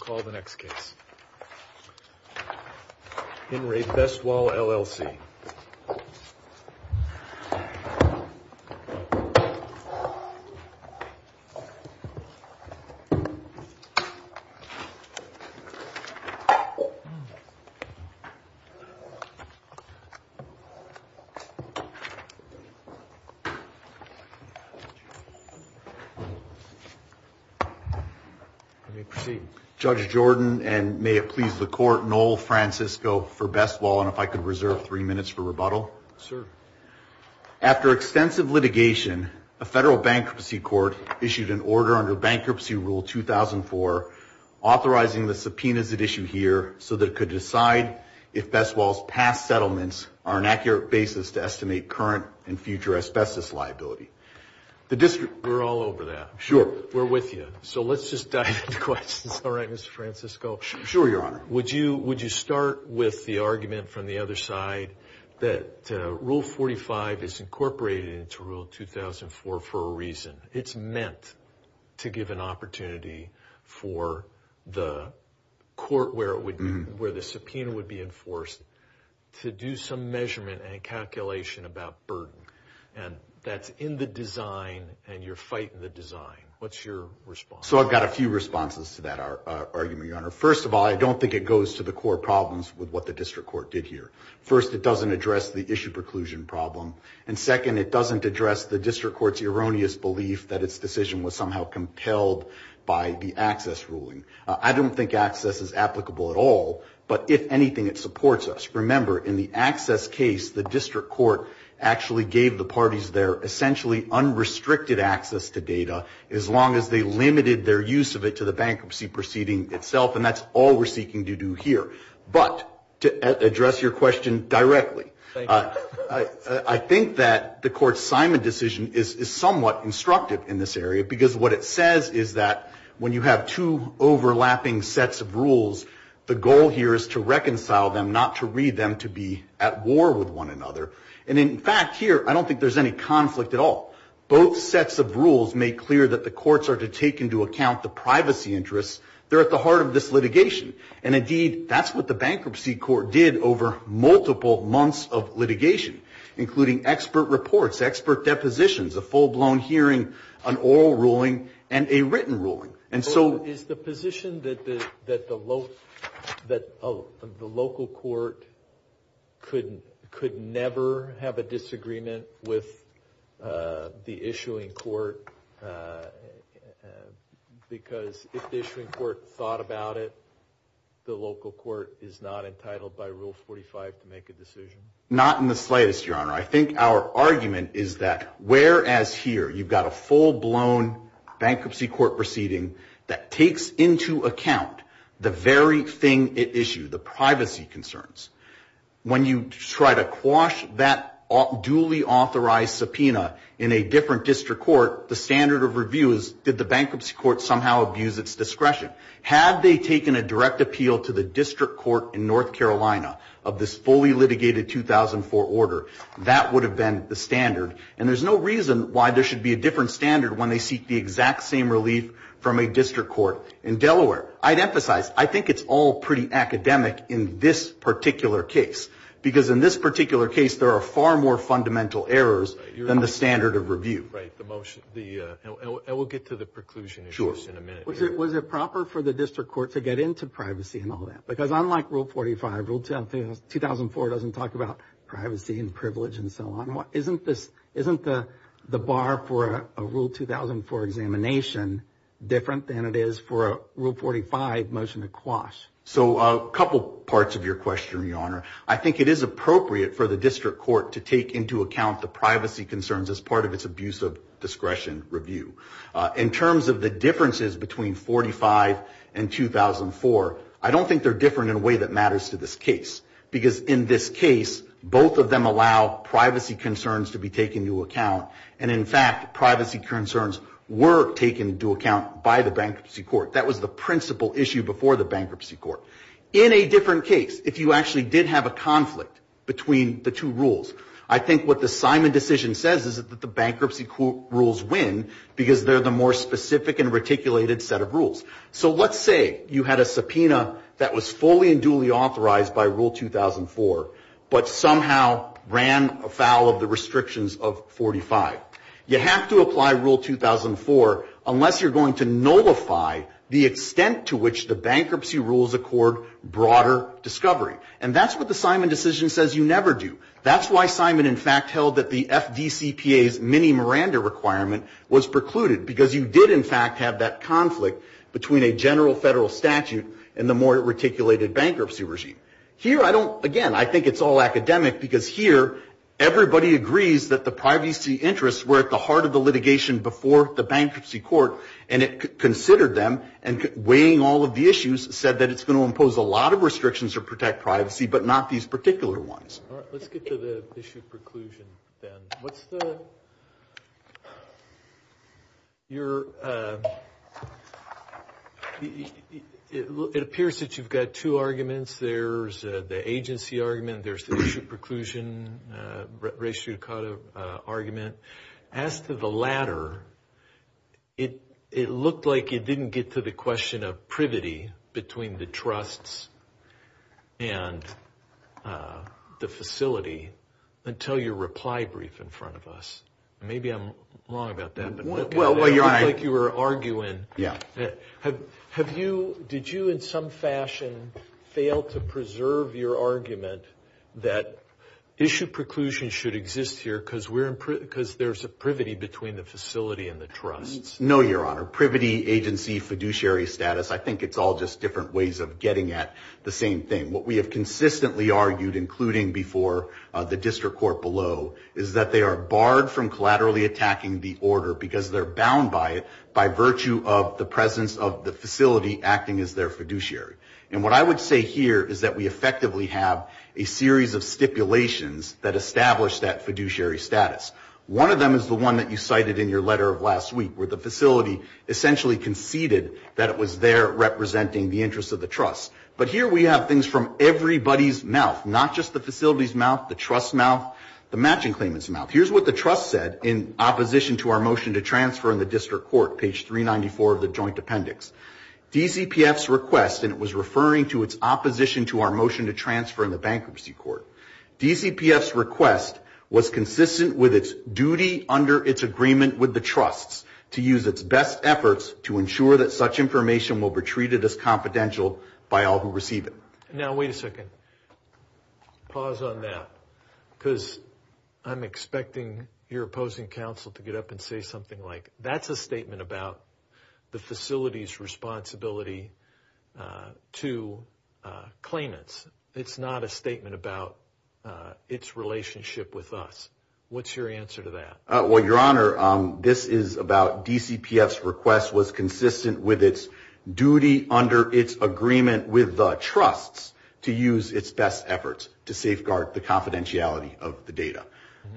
We'll call the next case, Bin Raid Best Wall, LLC. Judge Jordan and may it please the court, Noel Francisco for Best Wall and if I After extensive litigation, a federal bankruptcy court issued an order under Bankruptcy Rule 2004 authorizing the subpoenas that issue here so that it could decide if Best Wall's past settlements are an accurate basis to estimate current and future asbestos liability. We're all over that. Sure. We're with you. So let's just dive into questions. All right, Mr. Francisco. Sure, Your Honor. Would you start with the argument from the other side that Rule 45 is incorporated into Rule 2004 for a reason. It's meant to give an opportunity for the court where the subpoena would be enforced to do some measurement and a calculation about burden and that's in the design and you're fighting the design. What's your response? First of all, I don't think it goes to the core problems with what the district court did here. First, it doesn't address the issue preclusion problem and second, it doesn't address the district court's erroneous belief that its decision was somehow compelled by the access ruling. I don't think access is applicable at all, but if anything, it supports us. Remember, in the access case, the district court actually gave the parties their essentially unrestricted access to data as long as they limited their use of it to the bankruptcy proceeding itself and that's all we're seeking to do here. But, to address your question directly, I think that the court's Simon decision is somewhat instructive in this area because what it says is that when you have two overlapping sets of rules, the goal here is to reconcile them, not to read them to be at war with one another. And in fact, here, I don't think there's any conflict at all. Both sets of rules make clear that the courts are to take into account the privacy interests. They're at the heart of this litigation and indeed, that's what the bankruptcy court did over multiple months of litigation, including expert reports, expert depositions, a full-blown hearing, an oral ruling, and a written ruling. Is the position that the local court could never have a disagreement with the issuing court because if the issuing court thought about it, the local court is not entitled by Rule 45 to make a decision? Not in the slightest, Your Honor. I think our argument is that whereas here, you've got a full-blown bankruptcy court proceeding that takes into account the very thing it issued, the privacy concerns, when you try to quash that duly authorized subpoena in a different district court, the standard of review is, did the bankruptcy court somehow abuse its discretion? Had they taken a direct appeal to the district court in North Carolina of this fully litigated 2004 order, that would have been the standard. And there's no reason why there should be a different standard when they seek the exact same relief from a district court in Delaware. I'd emphasize, I think it's all pretty academic in this particular case, because in this particular case, there are far more fundamental errors than the standard of review. Right, and we'll get to the preclusion issues in a minute. Was it proper for the district court to get into privacy and all that? Because unlike Rule 45, Rule 2004 doesn't talk about privacy and privilege and so on. Isn't the bar for a Rule 2004 examination different than it is for a Rule 45 motion to quash? So a couple parts of your question, Your Honor. I think it is appropriate for the district court to take into account the privacy concerns as part of its abuse of discretion review. In terms of the differences between 45 and 2004, I don't think they're different in a way that matters to this case. Because in this case, both of them allow privacy concerns to be taken into account. And in fact, privacy concerns were taken into account by the bankruptcy court. That was the principal issue before the bankruptcy court. In a different case, if you actually did have a conflict between the two rules, I think what the Simon decision says is that the bankruptcy rules win because they're the more specific and reticulated set of rules. So let's say you had a subpoena that was fully and duly authorized by Rule 2004, but somehow ran afoul of the restrictions of 45. You have to apply Rule 2004 unless you're going to nullify the extent to which the bankruptcy rules accord broader discovery. And that's what the Simon decision says you never do. That's why Simon in fact held that the FDCPA's mini Miranda requirement was precluded, because you did in fact have that conflict between a general federal statute and the more reticulated bankruptcy regime. Here, again, I think it's all academic because here, everybody agrees that the privacy interests were at the heart of the litigation before the bankruptcy court, said that it's going to impose a lot of restrictions to protect privacy, but not these particular ones. All right, let's get to the issue of preclusion then. It appears that you've got two arguments. There's the agency argument. There's the issue of preclusion, race judicata argument. As to the latter, it looked like it didn't get to the question of privity between the trusts and the facility until your reply brief in front of us. Maybe I'm wrong about that. Well, you're right. It looked like you were arguing. Yeah. Did you in some fashion fail to preserve your argument that issue preclusion should exist here because there's a privity between the facility and the trust? No, Your Honor. Privity, agency, fiduciary status, I think it's all just different ways of getting at the same thing. What we have consistently argued, including before the district court below, is that they are barred from collaterally attacking the order because they're bound by it by virtue of the presence of the facility acting as their fiduciary. And what I would say here is that we effectively have a series of stipulations that establish that fiduciary status. One of them is the one that you cited in your letter of last week where the facility essentially conceded that it was there representing the interest of the trust. But here we have things from everybody's mouth, not just the facility's mouth, the trust's mouth, the matching claimant's mouth. Here's what the trust said in opposition to our motion to transfer in the district court, page 394 of the joint appendix. DCPF's request, and it was referring to its opposition to our motion to transfer in the bankruptcy court, DCPF's request was consistent with its duty under its agreement with the trust to use its best efforts to ensure that such information will be treated as confidential by all who receive it. Now, wait a second. Pause on that because I'm expecting your opposing counsel to get up and say something like, that's a statement about the facility's responsibility to claimants. It's not a statement about its relationship with us. What's your answer to that? Well, Your Honor, this is about DCPF's request was consistent with its duty under its agreement with the trust to use its best efforts to safeguard the confidentiality of the data.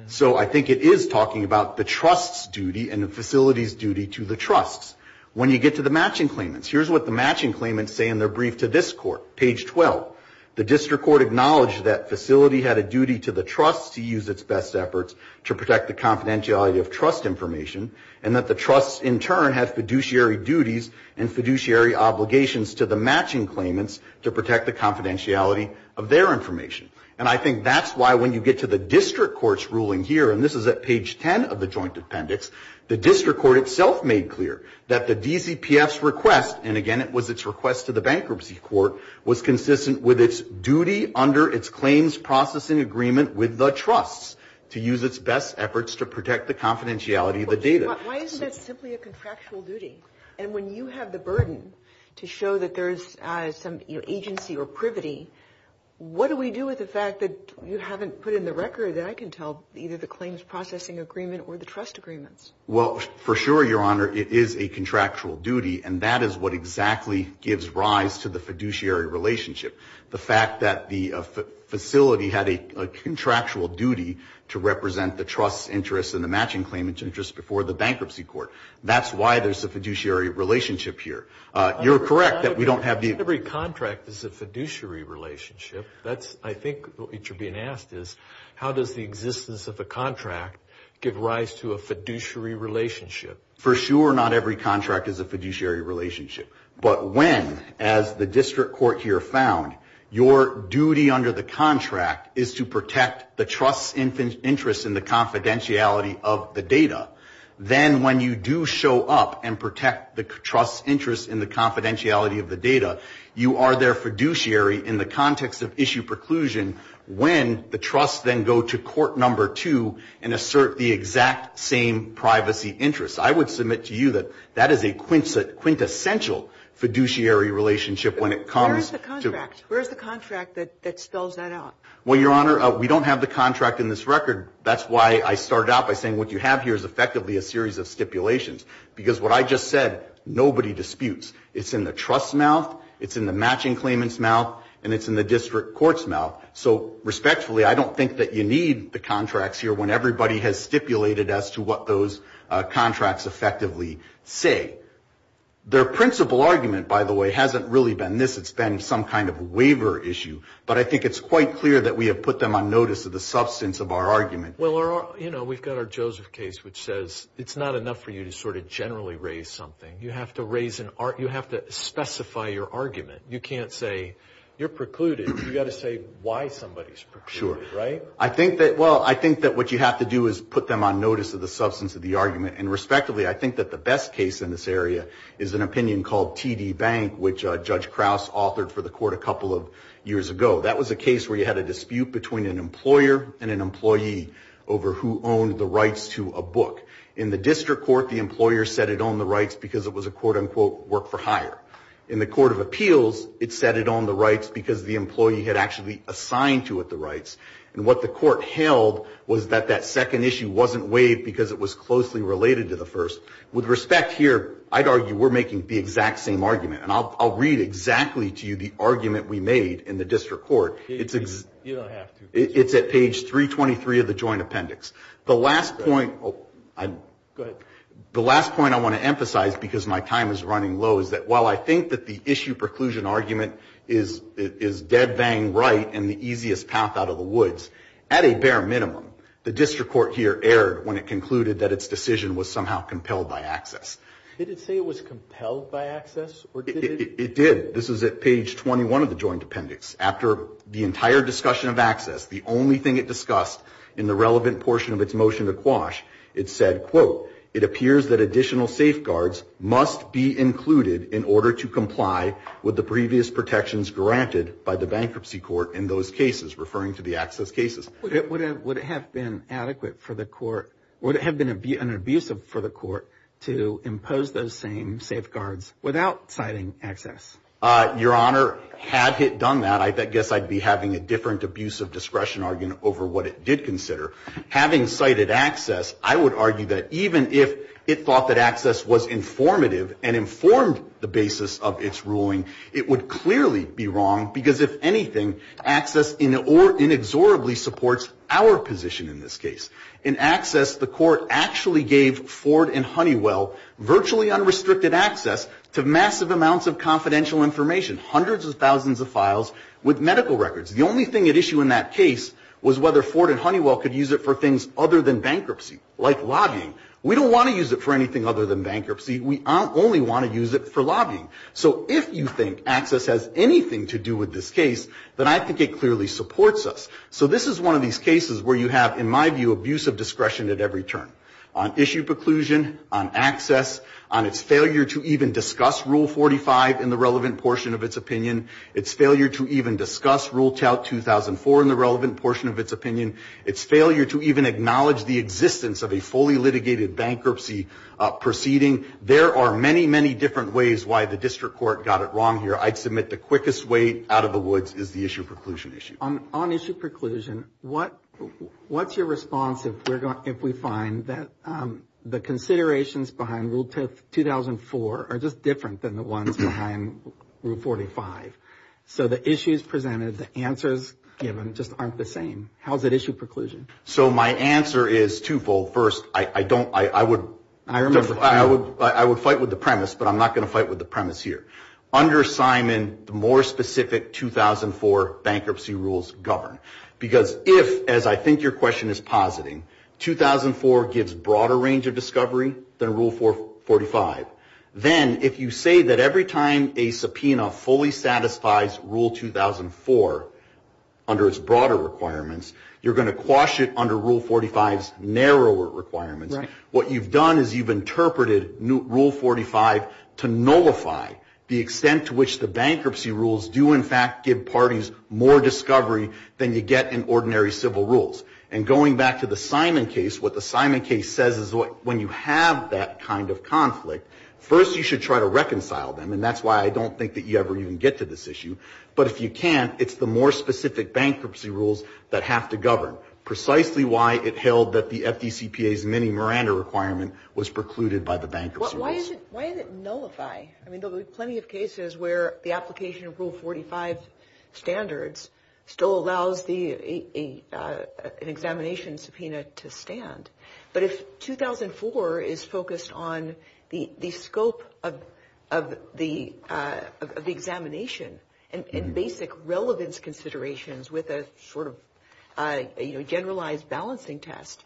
So I think it is talking about the trust's duty and the facility's duty to the trust. When you get to the matching claimants, here's what the matching claimants say in their brief to this court, page 12. The district court acknowledged that facility had a duty to the trust to use its best efforts to protect the confidentiality of trust information and that the trust in turn has fiduciary duties and fiduciary obligations to the matching claimants to protect the confidentiality of their information. And I think that's why when you get to the district court's ruling here, and this is at page 10 of the joint appendix, the district court itself made clear that the DCPF's request, and again it was its request to the bankruptcy court, was consistent with its duty under its claims processing agreement with the trust to use its best efforts to protect the confidentiality of the data. Why isn't that simply a contractual duty? And when you have the burden to show that there's some agency or privity, what do we do with the fact that you haven't put in the record, that I can tell, either the claims processing agreement or the trust agreements? Well, for sure, Your Honor, it is a contractual duty, and that is what exactly gives rise to the fiduciary relationship. The fact that the facility had a contractual duty to represent the trust's interests and the matching claimants' interests before the bankruptcy court. That's why there's a fiduciary relationship here. You're correct that we don't have the... Every contract is a fiduciary relationship. That's, I think, what you're being asked is, how does the existence of the contract give rise to a fiduciary relationship? For sure, not every contract is a fiduciary relationship. But when, as the district court here found, your duty under the contract is to protect the trust's interest in the confidentiality of the data, then when you do show up and protect the trust's interest in the confidentiality of the data, you are their fiduciary in the context of issue preclusion when the trust then go to court number two and assert the exact same privacy interest. I would submit to you that that is a quintessential fiduciary relationship when it comes to... Where's the contract that spells that out? Well, Your Honor, we don't have the contract in this record. That's why I started out by saying what you have here is effectively a series of stipulations, because what I just said, nobody disputes. It's in the trust's mouth, it's in the matching claimant's mouth, and it's in the district court's mouth. So respectfully, I don't think that you need the contracts here when everybody has stipulated as to what those contracts effectively say. Their principal argument, by the way, hasn't really been this. It's been some kind of waiver issue. But I think it's quite clear that we have put them on notice of the substance of our argument. Well, we've got our Joseph case, which says it's not enough for you to sort of generally raise something. You have to specify your argument. You can't say you're precluded. You've got to say why somebody's precluded, right? Well, I think that what you have to do is put them on notice of the substance of the argument. And respectively, I think that the best case in this area is an opinion called TD Bank, which Judge Krause authored for the court a couple of years ago. That was a case where you had a dispute between an employer and an employee over who owned the rights to a book. In the district court, the employer said it owned the rights because it was a quote-unquote work-for-hire. In the court of appeals, it said it owned the rights because the employee had actually assigned to it the rights. And what the court held was that that second issue wasn't waived because it was closely related to the first. With respect here, I'd argue we're making the exact same argument. And I'll read exactly to you the argument we made in the district court. It's at page 323 of the joint appendix. The last point I want to emphasize, because my time is running low, is that while I think that the issue preclusion argument is dead-bang right and the easiest path out of the woods, at a bare minimum, the district court here erred when it concluded that its decision was somehow compelled by access. Did it say it was compelled by access? It did. This is at page 21 of the joint appendix. After the entire discussion of access, the only thing it discussed in the relevant portion of its motion to quash, it said, quote, it appears that additional safeguards must be included in order to comply with the previous protections granted by the bankruptcy court in those cases, referring to the access cases. Would it have been adequate for the court, would it have been abusive for the court, to impose those same safeguards without citing access? Your Honor, had it done that, I guess I'd be having a different abusive discretion argument over what it did consider. Having cited access, I would argue that even if it thought that access was informative and informed the basis of its ruling, it would clearly be wrong, because if anything, access inexorably supports our position in this case. In access, the court actually gave Ford and Honeywell virtually unrestricted access to massive amounts of confidential information, hundreds of thousands of files with medical records. The only thing at issue in that case was whether Ford and Honeywell could use it for things other than bankruptcy, like lobbying. We don't want to use it for anything other than bankruptcy. We only want to use it for lobbying. So if you think access has anything to do with this case, then I think it clearly supports us. So this is one of these cases where you have, in my view, abusive discretion at every turn. On issue preclusion, on access, on its failure to even discuss Rule 45 in the relevant portion of its opinion, its failure to even discuss Rule 2004 in the relevant portion of its opinion, its failure to even acknowledge the existence of a fully litigated bankruptcy proceeding. There are many, many different ways why the district court got it wrong here. I'd submit the quickest way out of the woods is the issue preclusion issue. On issue preclusion, what's your response if we find that the considerations behind Rule 2004 are just different than the ones behind Rule 45? So the issues presented, the answers given just aren't the same. How is it issue preclusion? So my answer is twofold. First, I would fight with the premise, but I'm not going to fight with the premise here. Under Simon, the more specific 2004 bankruptcy rules govern. Because if, as I think your question is positing, 2004 gives broader range of discovery than Rule 445, then if you say that every time a subpoena fully satisfies Rule 2004 under its broader requirements, you're going to quash it under Rule 445's narrower requirements, what you've done is you've interpreted Rule 445 to nullify the extent to which the bankruptcy rules do in fact give parties more discovery than you get in ordinary civil rules. And going back to the Simon case, what the Simon case says is when you have that kind of conflict, first you should try to reconcile them, and that's why I don't think that you ever even get to this issue. But if you can't, it's the more specific bankruptcy rules that have to govern, precisely why it held that the FDCPA's mini Miranda requirement was precluded by the bankruptcy rules. Why does it nullify? I mean, there's plenty of cases where the application of Rule 445's standards still allows an examination subpoena to stand. But if 2004 is focused on the scope of the examination and basic relevance considerations with a sort of generalized balancing test,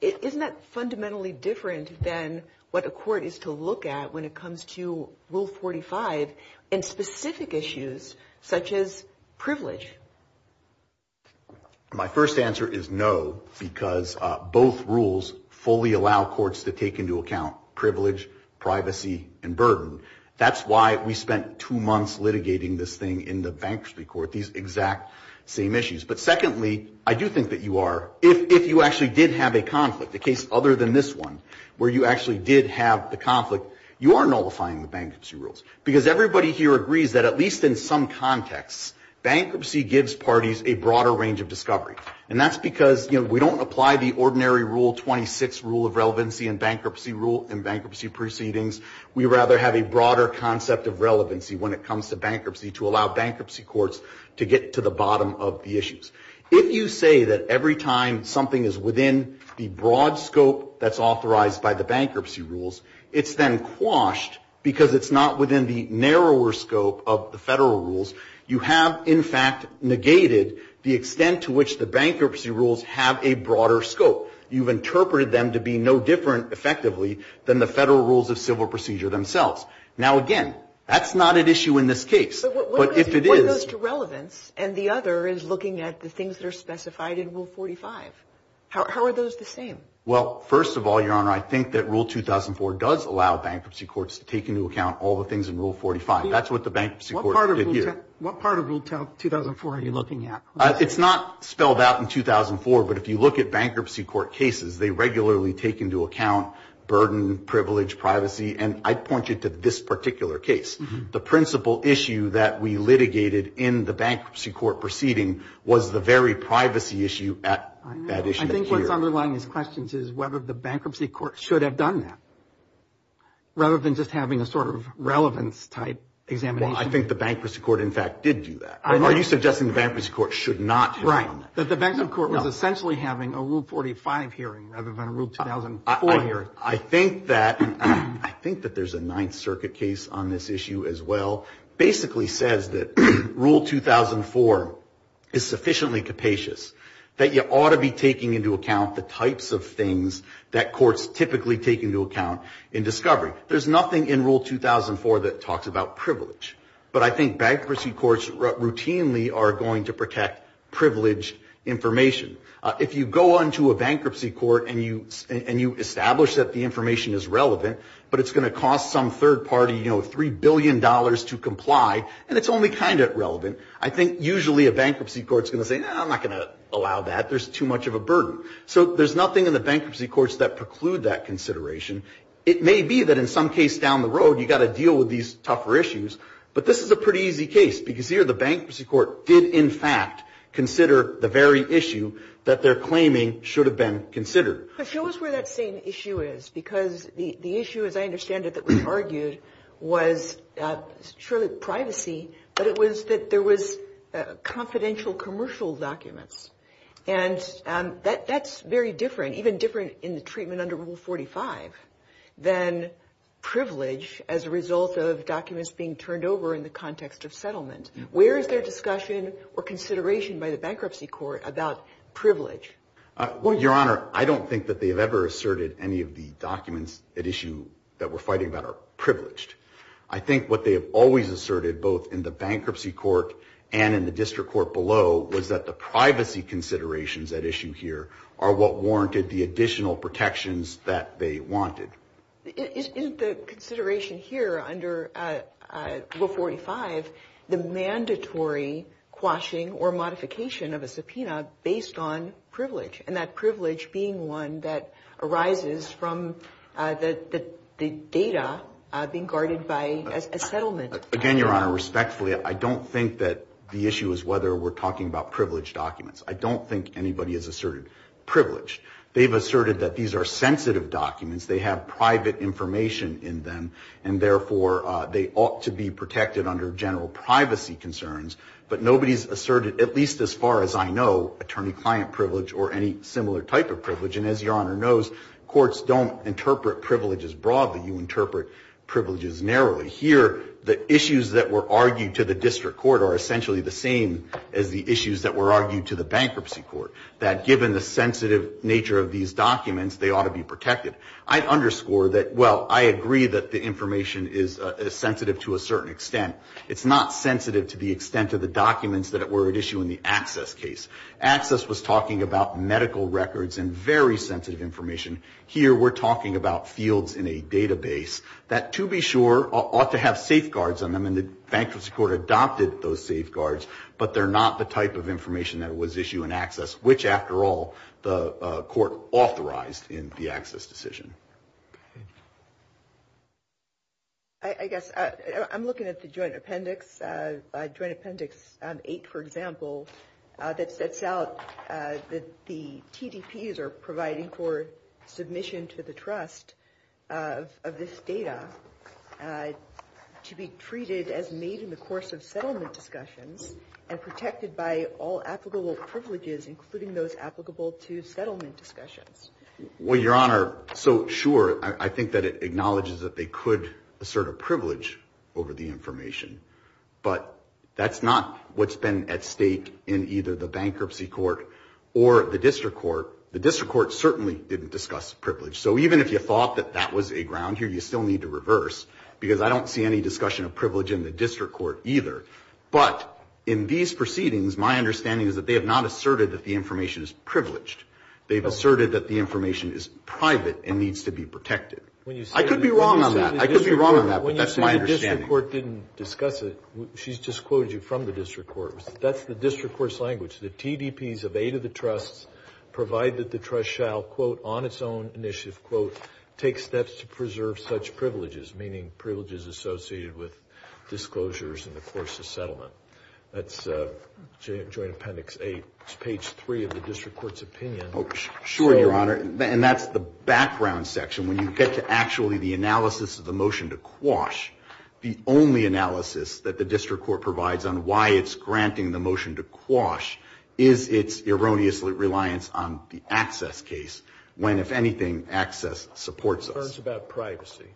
isn't that fundamentally different than what the court is to look at when it comes to Rule 445 and specific issues such as privilege? My first answer is no, because both rules fully allow courts to take into account privilege, privacy, and burden. That's why we spent two months litigating this thing in the bankruptcy court, these exact same issues. But secondly, I do think that you are, if you actually did have a conflict, a case other than this one, where you actually did have the conflict, you are nullifying the bankruptcy rules, because everybody here agrees that at least in some context, bankruptcy gives parties a broader range of discovery. And that's because we don't apply the ordinary Rule 26 rule of relevancy and bankruptcy proceedings. We rather have a broader concept of relevancy when it comes to bankruptcy to allow bankruptcy courts to get to the bottom of the issues. If you say that every time something is within the broad scope that's authorized by the bankruptcy rules, it's then quashed because it's not within the narrower scope of the federal rules. You have, in fact, negated the extent to which the bankruptcy rules have a broader scope. You've interpreted them to be no different, effectively, than the federal rules of civil procedure themselves. Now, again, that's not an issue in this case. But if it is... One of those is relevance, and the other is looking at the things that are specified in Rule 45. How are those the same? Well, first of all, Your Honor, I think that Rule 2004 does allow bankruptcy courts to take into account all the things in Rule 45. That's what the bankruptcy court did here. What part of Rule 2004 are you looking at? It's not spelled out in 2004, but if you look at bankruptcy court cases, they regularly take into account burden, privilege, privacy, and I'd point you to this particular case. The principal issue that we litigated in the bankruptcy court proceeding was the very privacy issue at issue here. I think what's underlying these questions is whether the bankruptcy court should have done that, rather than just having a sort of relevance-type examination. Well, I think the bankruptcy court, in fact, did do that. Are you suggesting the bankruptcy court should not have done that? Right, that the bankruptcy court was essentially having a Rule 45 hearing rather than a Rule 2004 hearing. I think that there's a Ninth Circuit case on this issue as well. It basically says that Rule 2004 is sufficiently capacious, that you ought to be taking into account the types of things that courts typically take into account in discovery. There's nothing in Rule 2004 that talks about privilege, but I think bankruptcy courts routinely are going to protect privileged information. If you go on to a bankruptcy court and you establish that the information is relevant, but it's going to cost some third party $3 billion to comply, and it's only kind of relevant, I think usually a bankruptcy court is going to say, I'm not going to allow that, there's too much of a burden. So there's nothing in the bankruptcy courts that preclude that consideration. It may be that in some cases down the road you've got to deal with these tougher issues, but this is a pretty easy case, because here the bankruptcy court did, in fact, consider the very issue that they're claiming should have been considered. But show us where that same issue is, because the issue, as I understand it, that was argued was surely privacy, but it was that there was confidential commercial documents. And that's very different, even different in the treatment under Rule 45, than privilege as a result of documents being turned over in the context of settlement. Where is there discussion or consideration by the bankruptcy court about privilege? Well, Your Honor, I don't think that they've ever asserted any of the documents at issue that we're fighting about are privileged. I think what they have always asserted, both in the bankruptcy court and in the district court below, was that the privacy considerations at issue here are what warranted the additional protections that they wanted. Isn't the consideration here under Rule 45 the mandatory quashing or modification of a subpoena based on privilege, and that privilege being one that arises from the data being guarded by a settlement? Again, Your Honor, respectfully, I don't think that the issue is whether we're talking about privileged documents. I don't think anybody has asserted privilege. They've asserted that these are sensitive documents. They have private information in them, and therefore they ought to be protected under general privacy concerns. But nobody has asserted, at least as far as I know, attorney-client privilege or any similar type of privilege. And as Your Honor knows, courts don't interpret privileges broadly. You interpret privileges narrowly. Here, the issues that were argued to the district court are essentially the same as the issues that were argued to the bankruptcy court, that given the sensitive nature of these documents, they ought to be protected. I underscore that, well, I agree that the information is sensitive to a certain extent. It's not sensitive to the extent of the documents that were at issue in the access case. Access was talking about medical records and very sensitive information. Here, we're talking about fields in a database that, to be sure, ought to have safeguards on them, and the bankruptcy court adopted those safeguards, but they're not the type of information that was issued in access, which, after all, the court authorized in the access decision. I guess I'm looking at the joint appendix, joint appendix 8, for example, that sets out that the TDPs are providing for submission to the trust of this data to be treated as made in the course of settlement discussions and protected by all applicable privileges, including those applicable to settlement discussions. Well, Your Honor, so sure, I think that it acknowledges that they could assert a privilege over the information, but that's not what's been at stake in either the bankruptcy court or the district court. The district court certainly didn't discuss privilege. So even if you thought that that was a ground here, you still need to reverse, because I don't see any discussion of privilege in the district court either. But in these proceedings, my understanding is that they have not asserted that the information is privileged. They've asserted that the information is private and needs to be protected. I could be wrong on that. I could be wrong on that, but that's my understanding. When the district court didn't discuss it, she's disclosed it from the district court. That's the district court's language. The TDPs have aided the trust, provided that the trust shall, quote, on its own initiative, quote, take steps to preserve such privileges, meaning privileges associated with disclosures in the course of settlement. That's joint appendix 8, page 3 of the district court's opinion. Sure, Your Honor. And that's the background section. When you get to actually the analysis of the motion to quash, the only analysis that the district court provides on why it's granting the motion to quash is its erroneous reliance on the access case, when, if anything, access supports it. Concerns about privacy.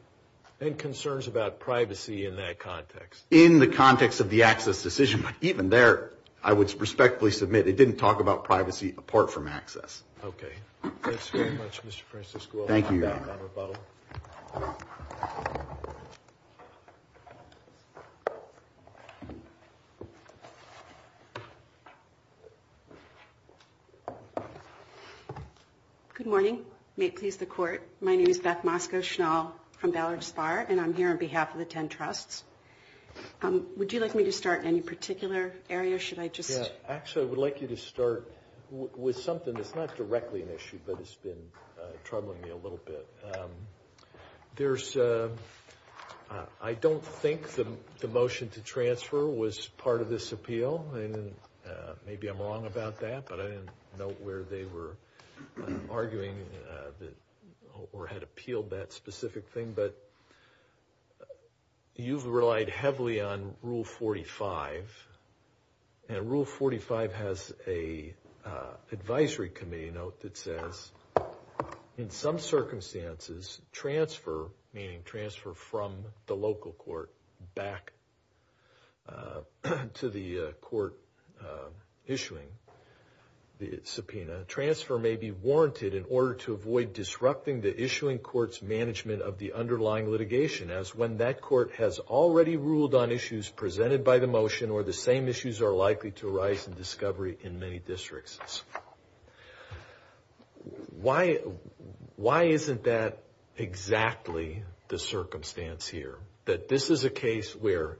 Any concerns about privacy in that context? In the context of the access decision. Even there, I would respectfully submit it didn't talk about privacy apart from access. Okay. Thank you very much, Mr. Francisco. Thank you, Your Honor. I'll hand back that rebuttal. Good morning. May it please the Court. My name is Beth Mosco-Schnall from Ballard Spire, and I'm here on behalf of the 10 trusts. Would you like me to start in any particular area? Should I just ask? Actually, I would like you to start with something that's not directly an issue, but it's been troubling me a little bit. I don't think the motion to transfer was part of this appeal. Maybe I'm wrong about that, but I didn't know where they were arguing or had appealed that specific thing. But you've relied heavily on Rule 45, and Rule 45 has an advisory committee note that says, in some circumstances, transfer, meaning transfer from the local court back to the court issuing the subpoena, transfer may be warranted in order to avoid disrupting the issuing court's management of the underlying litigation, as when that court has already ruled on issues presented by the motion or the same issues are likely to arise in discovery in many districts. Why isn't that exactly the circumstance here, that this is a case where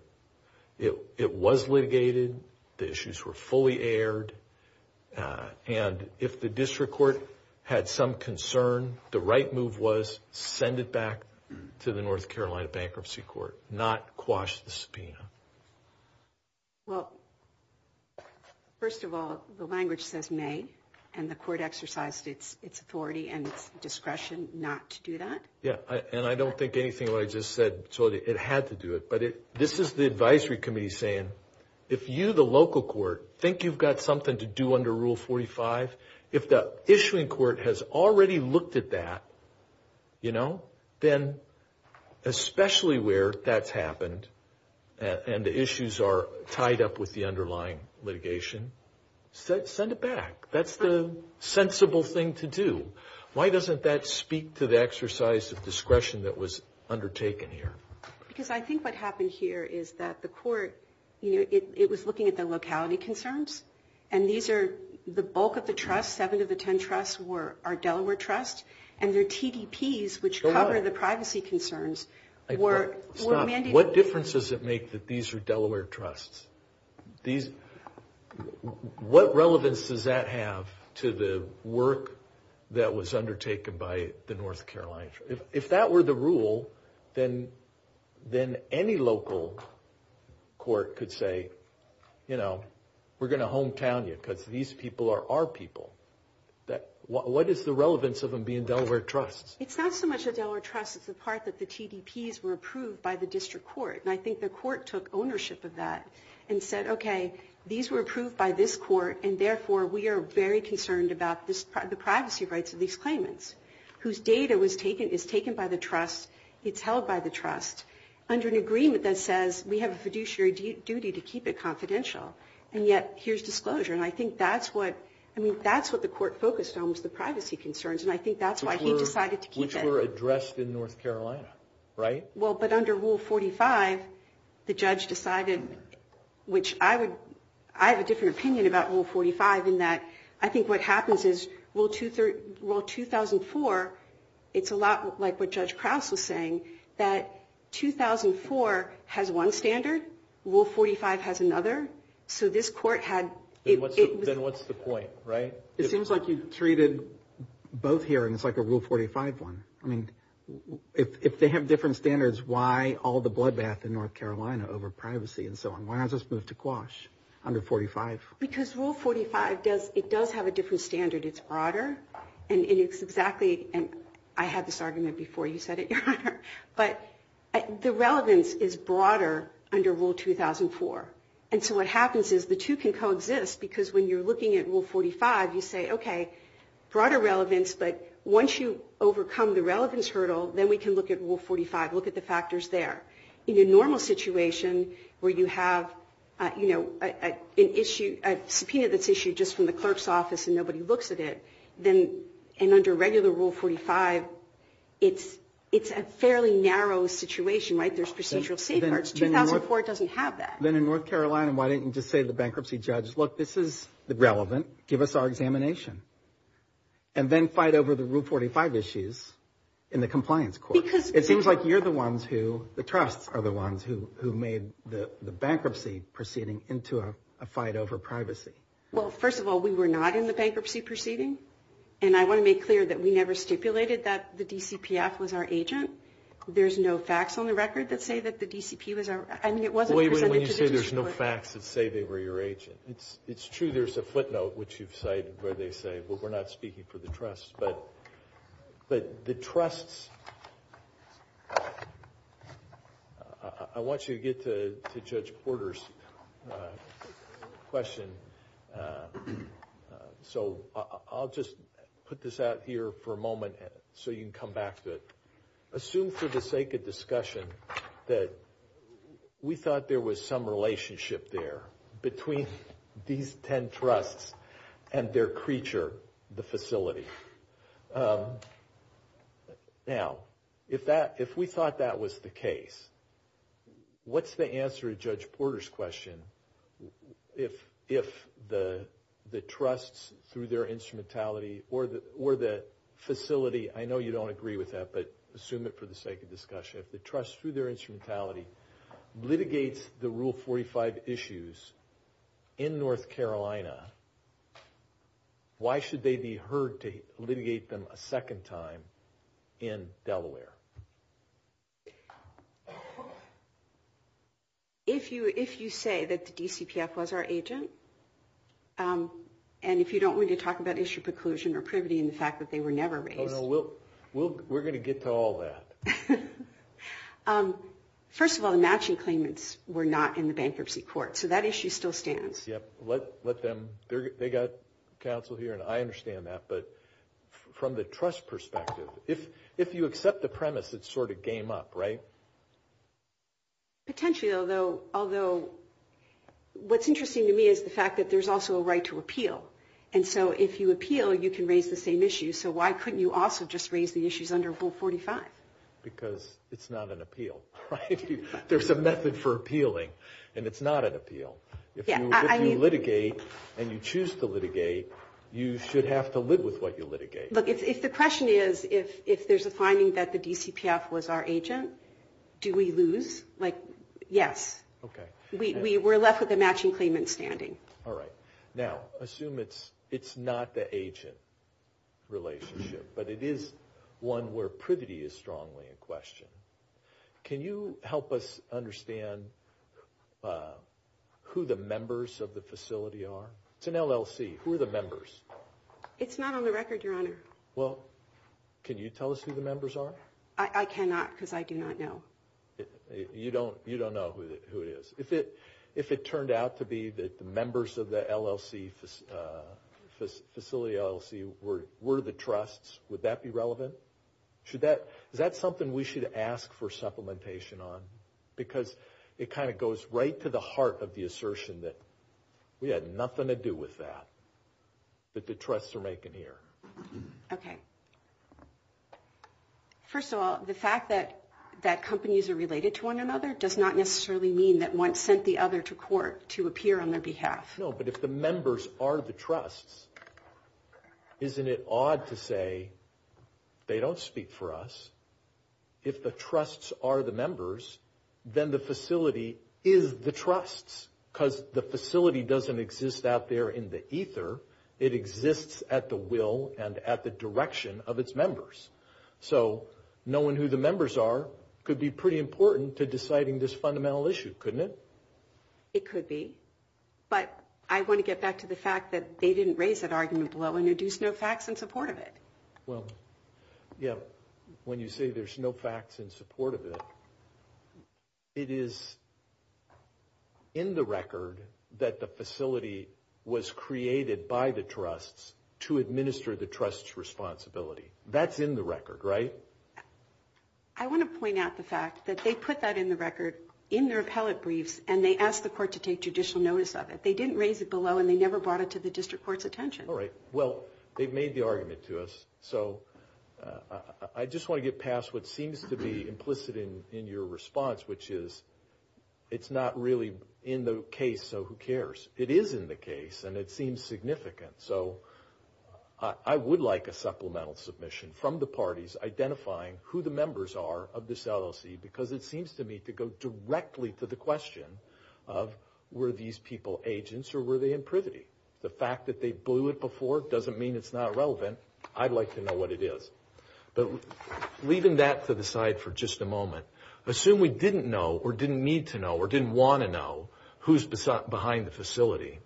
it was litigated, the issues were fully aired, and if the district court had some concern, the right move was to send it back to the North Carolina Bankruptcy Court, not quash the subpoena? Well, first of all, the language says nay, and the court exercised its authority and discretion not to do that. Yeah, and I don't think anything I just said, so it had to do it. But this is the advisory committee saying, if you, the local court, think you've got something to do under Rule 45, if the issuing court has already looked at that, you know, then especially where that's happened and the issues are tied up with the underlying litigation, send it back. That's the sensible thing to do. Why doesn't that speak to the exercise of discretion that was undertaken here? Because I think what happened here is that the court, you know, it was looking at the locality concerns, and these are the bulk of the trust, seven of the ten trusts are Delaware trusts, and their TDPs, which cover the privacy concerns, were mandated. What difference does it make that these are Delaware trusts? What relevance does that have to the work that was undertaken by the North Carolina? If that were the rule, then any local court could say, you know, we're going to hometown you because these people are our people. What is the relevance of them being Delaware trusts? It's not so much a Delaware trust. It's the part that the TDPs were approved by the district court, and I think the court took ownership of that and said, okay, these were approved by this court, and therefore we are very concerned about the privacy rights of these claimants whose data is taken by the trust, it's held by the trust, under an agreement that says we have a fiduciary duty to keep it confidential, and yet here's disclosure. And I think that's what the court focused on was the privacy concerns, and I think that's why he decided to keep that. Which were addressed in North Carolina, right? Well, but under Rule 45, the judge decided, which I have a different opinion about Rule 45 in that I think what happens is Rule 2004, it's a lot like what Judge Krause was saying, that 2004 has one standard, Rule 45 has another. So this court had... Then what's the point, right? It seems like you've treated both here and it's like a Rule 45 one. I mean, if they have different standards, why all the bloodbath in North Carolina over privacy and so on? Why not just move to Quash under 45? Because Rule 45 does have a different standard. It's broader, and it's exactly, and I had this argument before you said it, Your Honor, but the relevance is broader under Rule 2004. And so what happens is the two can coexist because when you're looking at Rule 45, you say, okay, broader relevance, but once you overcome the relevance hurdle, then we can look at Rule 45, look at the factors there. In a normal situation where you have a subpoena that's issued just from the clerk's office and nobody looks at it, then under regular Rule 45, it's a fairly narrow situation, right? There's procedural safeguards. 2004 doesn't have that. Then in North Carolina, why didn't you just say to the bankruptcy judge, look, this is relevant. Give us our examination. And then fight over the Rule 45 issues in the compliance court. It seems like you're the ones who, the trusts are the ones who made the bankruptcy proceeding into a fight over privacy. Well, first of all, we were not in the bankruptcy proceeding, and I want to make clear that we never stipulated that the DCPS was our agent. There's no facts on the record that say that the DCP was our agent. Wait a minute. When you say there's no facts that say they were your agent, it's true there's a footnote, which you've cited, where they say, well, we're not speaking for the trusts. But the trusts, I want you to get to Judge Porter's question. So I'll just put this out here for a moment so you can come back to it. Assume for the sake of discussion that we thought there was some relationship there between these ten trusts and their creature, the facility. Now, if we thought that was the case, what's the answer to Judge Porter's question if the trusts through their instrumentality or the facility, I know you don't agree with that, but assume it for the sake of discussion, if the trust through their instrumentality litigates the Rule 45 issues in North Carolina, why should they be heard to litigate them a second time in Delaware? If you say that the DCPS was our agent, and if you don't want to talk about issue preclusion or privity in the fact that they were never raised. We're going to get to all that. First of all, the matching claimants were not in the bankruptcy court, so that issue still stands. They've got counsel here, and I understand that, but from the trust perspective, if you accept the premise, it's sort of game up, right? Potentially, although what's interesting to me is the fact that there's also a right to appeal, and so if you appeal, you can raise the same issues, so why couldn't you also just raise the issues under Rule 45? Because it's not an appeal, right? There's a method for appealing, and it's not an appeal. If you litigate and you choose to litigate, you should have to live with what you litigate. If the question is if there's a finding that the DCPS was our agent, do we lose? Yes. We're left with a matching claimant standing. All right. Now, assume it's not the agent relationship, but it is one where privity is strongly in question. Can you help us understand who the members of the facility are? It's an LLC. Who are the members? It's not on the record, Your Honor. Well, can you tell us who the members are? I cannot because I do not know. You don't know who it is. If it turned out to be that the members of the facility LLC were the trusts, would that be relevant? Is that something we should ask for supplementation on? Because it kind of goes right to the heart of the assertion that we had nothing to do with that, that the trusts are making here. Okay. First of all, the fact that companies are related to one another does not necessarily mean that one sent the other to court to appear on their behalf. No, but if the members are the trusts, isn't it odd to say they don't speak for us? If the trusts are the members, then the facility is the trusts because the facility doesn't exist out there in the ether. It exists at the will and at the direction of its members. So knowing who the members are could be pretty important to deciding this fundamental issue, couldn't it? It could be. But I want to get back to the fact that they didn't raise that argument well when they do snowpacks in support of it. Well, yeah, when you say there's no facts in support of it, it is in the record that the facility was created by the trusts to administer the trust's responsibility. That's in the record, right? I want to point out the fact that they put that in the record in their appellate brief and they asked the court to take judicial notice of it. They didn't raise it below and they never brought it to the district court's attention. All right. Well, they've made the argument to us. So I just want to get past what seems to be implicit in your response, which is it's not really in the case of who cares. It is in the case and it seems significant. So I would like a supplemental submission from the parties identifying who the members are of this LLC because it seems to me to go directly to the question of were these people agents or were they imprivity? The fact that they blew it before doesn't mean it's not relevant. I'd like to know what it is. But leaving that to the side for just a moment, assume we didn't know or didn't need to know or didn't want to know who's behind the facility.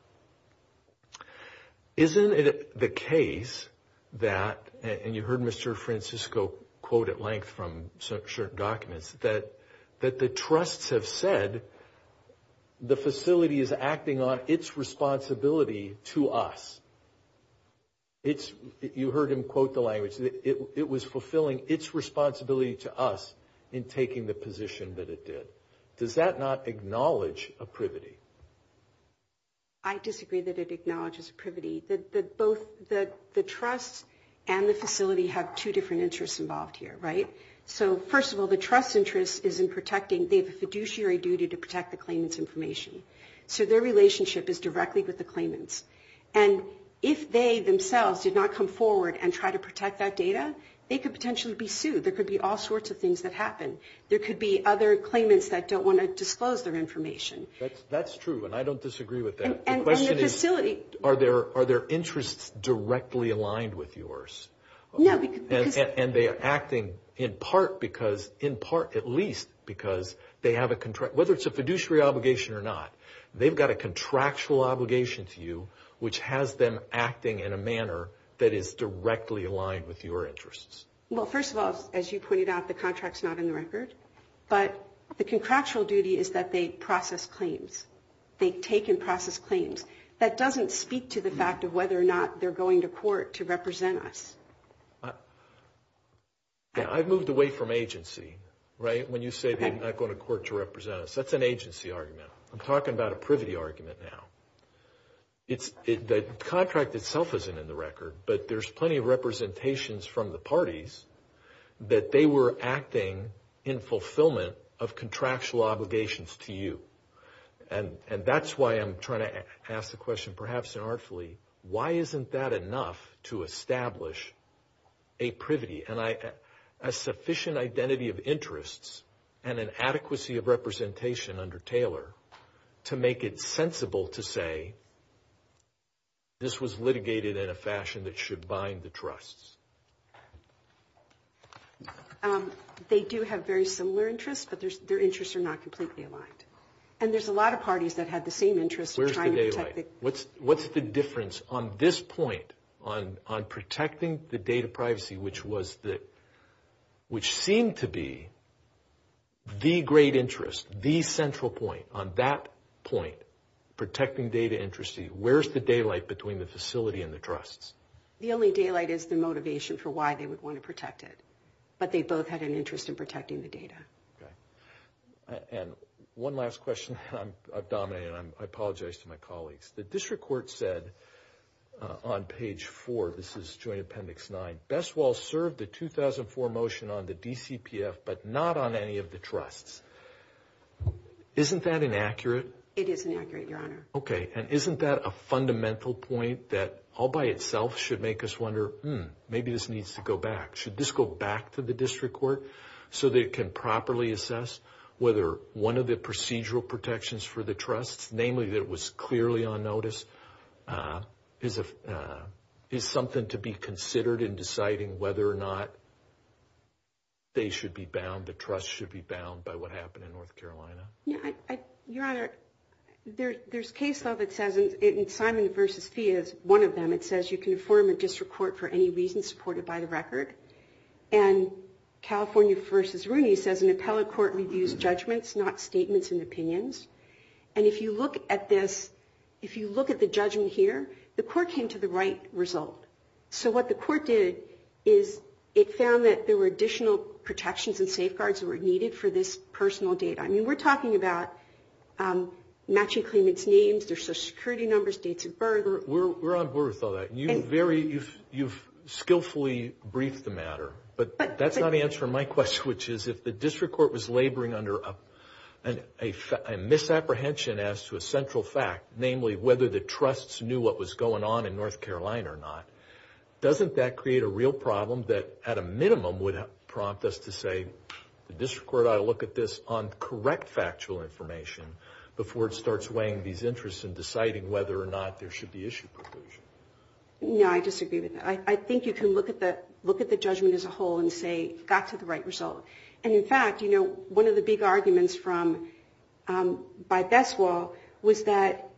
Isn't it the case that, and you heard Mr. Francisco quote at length from certain documents, that the trusts have said the facility is acting on its responsibility to us? You heard him quote the language. It was fulfilling its responsibility to us in taking the position that it did. Does that not acknowledge imprivity? I disagree that it acknowledges imprivity. Both the trust and the facility have two different interests involved here, right? So first of all, the trust's interest is in protecting the fiduciary duty to protect the claimant's information. So their relationship is directly with the claimant. And if they themselves did not come forward and try to protect that data, they could potentially be sued. There could be all sorts of things that happen. There could be other claimants that don't want to disclose their information. That's true, and I don't disagree with that. The question is, are their interests directly aligned with yours? And they are acting in part because, in part at least, because they have a contract. Whether it's a fiduciary obligation or not, they've got a contractual obligation to you, which has them acting in a manner that is directly aligned with your interests. Well, first of all, as you pointed out, the contract's not in the record. But the contractual duty is that they process claims. They take and process claims. That doesn't speak to the fact of whether or not they're going to court to represent us. I've moved away from agency, right, when you say they're not going to court to represent us. That's an agency argument. I'm talking about a privity argument now. The contract itself isn't in the record, but there's plenty of representations from the parties that they were acting in fulfillment of contractual obligations to you. And that's why I'm trying to ask the question, perhaps inartfully, why isn't that enough to establish a privity, a sufficient identity of interests and an adequacy of representation under Taylor to make it sensible to say this was litigated in a fashion that should bind the trusts? They do have very similar interests, but their interests are not completely aligned. And there's a lot of parties that have the same interests. Where's the daylight? What's the difference on this point on protecting the data privacy, which seemed to be the great interest, the central point, on that point, protecting data interests, where's the daylight between the facility and the trusts? The only daylight is the motivation for why they would want to protect it. But they both had an interest in protecting the data. And one last question. I've dominated. I apologize to my colleagues. The district court said on page four, this is Joint Appendix 9, Best Walls served the 2004 motion on the DCPF but not on any of the trusts. Isn't that inaccurate? It is inaccurate, Your Honor. Okay. And isn't that a fundamental point that all by itself should make us wonder, hmm, maybe this needs to go back? Should this go back to the district court so they can properly assess whether one of the procedural protections for the trusts, namely that it was clearly on notice, is something to be considered in deciding whether or not they should be bound, the trust should be bound by what happened in North Carolina? Your Honor, there's case law that says, and Simon v. Fee is one of them, it says you can affirm a district court for any reason supported by the record. And California v. Rooney says an appellate court reviews judgments, not statements and opinions. And if you look at this, if you look at the judgment here, the court came to the right result. So what the court did is it found that there were additional protections and safeguards that were needed for this personal data. I mean, we're talking about matching claimants' names, their social security numbers, dates of birth. We're on board with all that. You've skillfully briefed the matter. But that's not the answer to my question, which is if the district court was laboring under a misapprehension as to a central fact, namely whether the trusts knew what was going on in North Carolina or not, doesn't that create a real problem that, at a minimum, would prompt us to say, the district court ought to look at this on correct factual information before it starts weighing these interests and deciding whether or not there should be issue proposals? No, I disagree with that. I think you can look at the judgment as a whole and say that's the right result. And, in fact, you know, one of the big arguments from Beth Wall was that,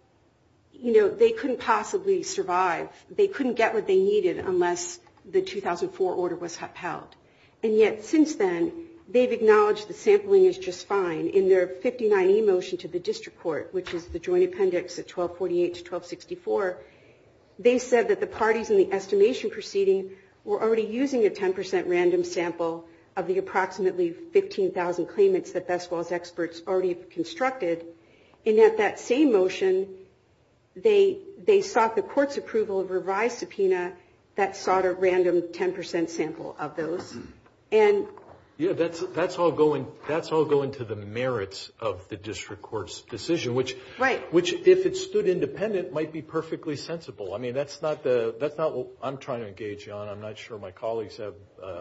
you know, they couldn't possibly survive. They couldn't get what they needed unless the 2004 order was upheld. And yet, since then, they've acknowledged the sampling is just fine. In their 59E motion to the district court, which is the joint appendix at 1248 to 1264, they said that the parties in the estimation proceeding were already using a 10% random sample of the approximately 15,000 claimants that Beth Wall's experts already constructed. And yet, that same motion, they sought the court's approval of a revised subpoena that sought a random 10% sample of those. Yeah, that's all going to the merits of the district court's decision, which, if it stood independent, might be perfectly sensible. I mean, that's not what I'm trying to engage you on. I'm not sure my colleagues have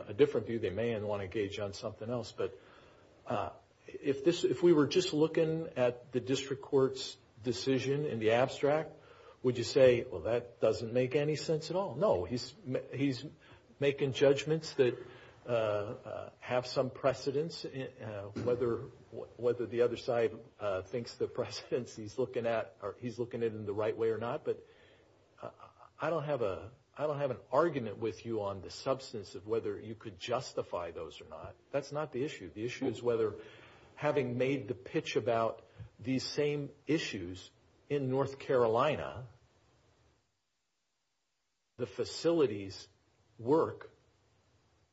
a different view. They may want to engage you on something else. But if we were just looking at the district court's decision in the abstract, would you say, well, that doesn't make any sense at all? No, he's making judgments that have some precedence, whether the other side thinks the precedence he's looking at, or he's looking at it in the right way or not. But I don't have an argument with you on the substance of whether you could justify those or not. That's not the issue. The issue is whether, having made the pitch about these same issues in North Carolina, the facility's work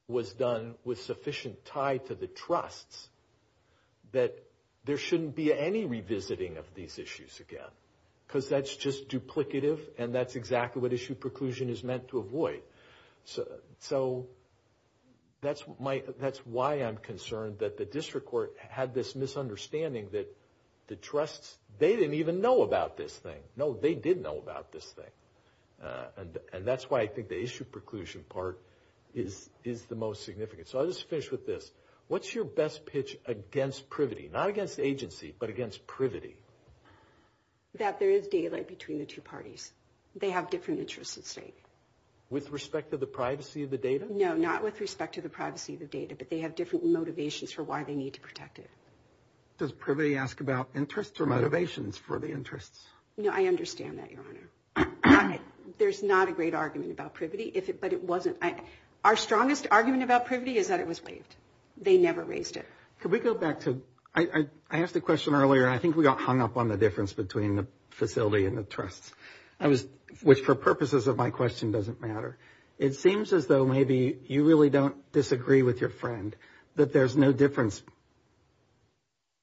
was done with sufficient tie to the trust that there shouldn't be any revisiting of these issues again. Because that's just duplicative, and that's exactly what issue preclusion is meant to avoid. So that's why I'm concerned that the district court had this misunderstanding that the trusts, they didn't even know about this thing. No, they did know about this thing. And that's why I think the issue preclusion part is the most significant. So I'll just finish with this. What's your best pitch against privity, not against agency, but against privity? That there is daylight between the two parties. They have different interests at stake. With respect to the privacy of the data? No, not with respect to the privacy of the data, but they have different motivations for why they need to protect it. Does privity ask about interests or motivations for the interests? No, I understand that, Your Honor. There's not a great argument about privity, but it wasn't. Our strongest argument about privity is that it was waived. They never waived it. Could we go back to – I asked a question earlier, and I think we got hung up on the difference between the facility and the trusts. Which, for purposes of my question, doesn't matter. It seems as though maybe you really don't disagree with your friend that there's no difference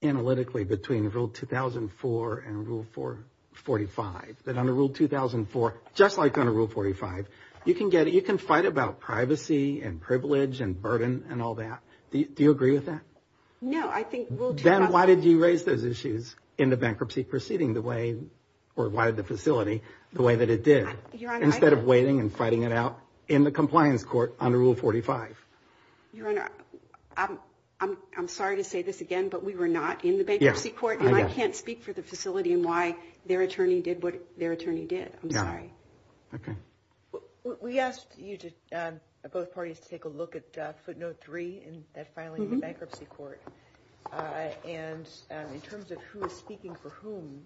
analytically between Rule 2004 and Rule 445. That under Rule 2004, just like under Rule 45, you can fight about privacy and privilege and burden and all that. Do you agree with that? No, I think – Ben, why did you raise those issues in the bankruptcy proceeding the way – or why the facility the way that it did, instead of waiting and fighting it out in the compliance court under Rule 45? Your Honor, I'm sorry to say this again, but we were not in the bankruptcy court, and I can't speak for the facility and why their attorney did what their attorney did. Okay. We asked both parties to take a look at footnote 3 in that filing in the bankruptcy court. And in terms of who is speaking for whom,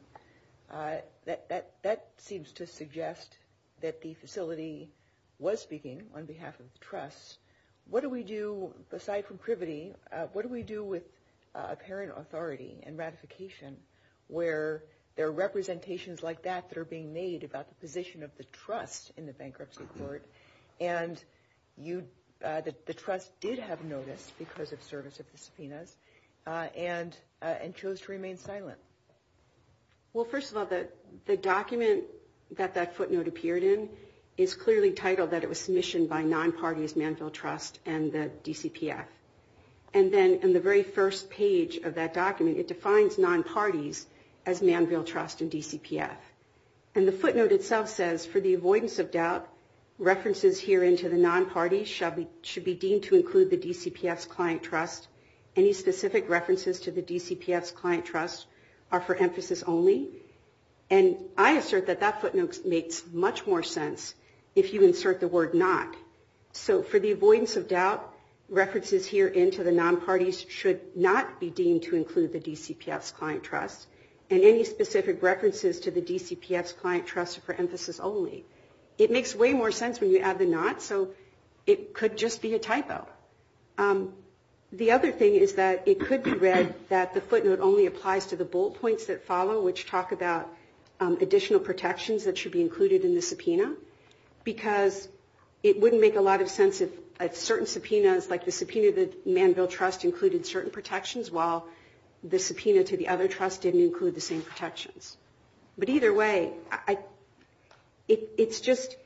that seems to suggest that the facility was speaking on behalf of the trust. What do we do – aside from privity, what do we do with apparent authority and ratification where there are representations like that that are being made about the position of the trust in the bankruptcy court, and that the trust did have notice because of service of the subpoenas and chose to remain silent? Well, first of all, the document that that footnote appeared in is clearly titled that it was submissioned by non-parties, Manville Trust, and the DCPS. And then in the very first page of that document, it defines non-parties as Manville Trust and DCPS. And the footnote itself says, for the avoidance of doubt, references here into the non-parties should be deemed to include the DCPS client trust. Any specific references to the DCPS client trust are for emphasis only. And I assert that that footnote makes much more sense if you insert the word not. So for the avoidance of doubt, references here into the non-parties should not be deemed to include the DCPS client trust. And any specific references to the DCPS client trust are for emphasis only. It makes way more sense when you add the not, so it could just be a typo. The other thing is that it could be read that the footnote only applies to the bullet points that follow, which talk about additional protections that should be included in the subpoena, because it wouldn't make a lot of sense if certain subpoenas like the subpoena to Manville Trust included certain protections while the subpoena to the other trust didn't include the same protections. But either way, it's just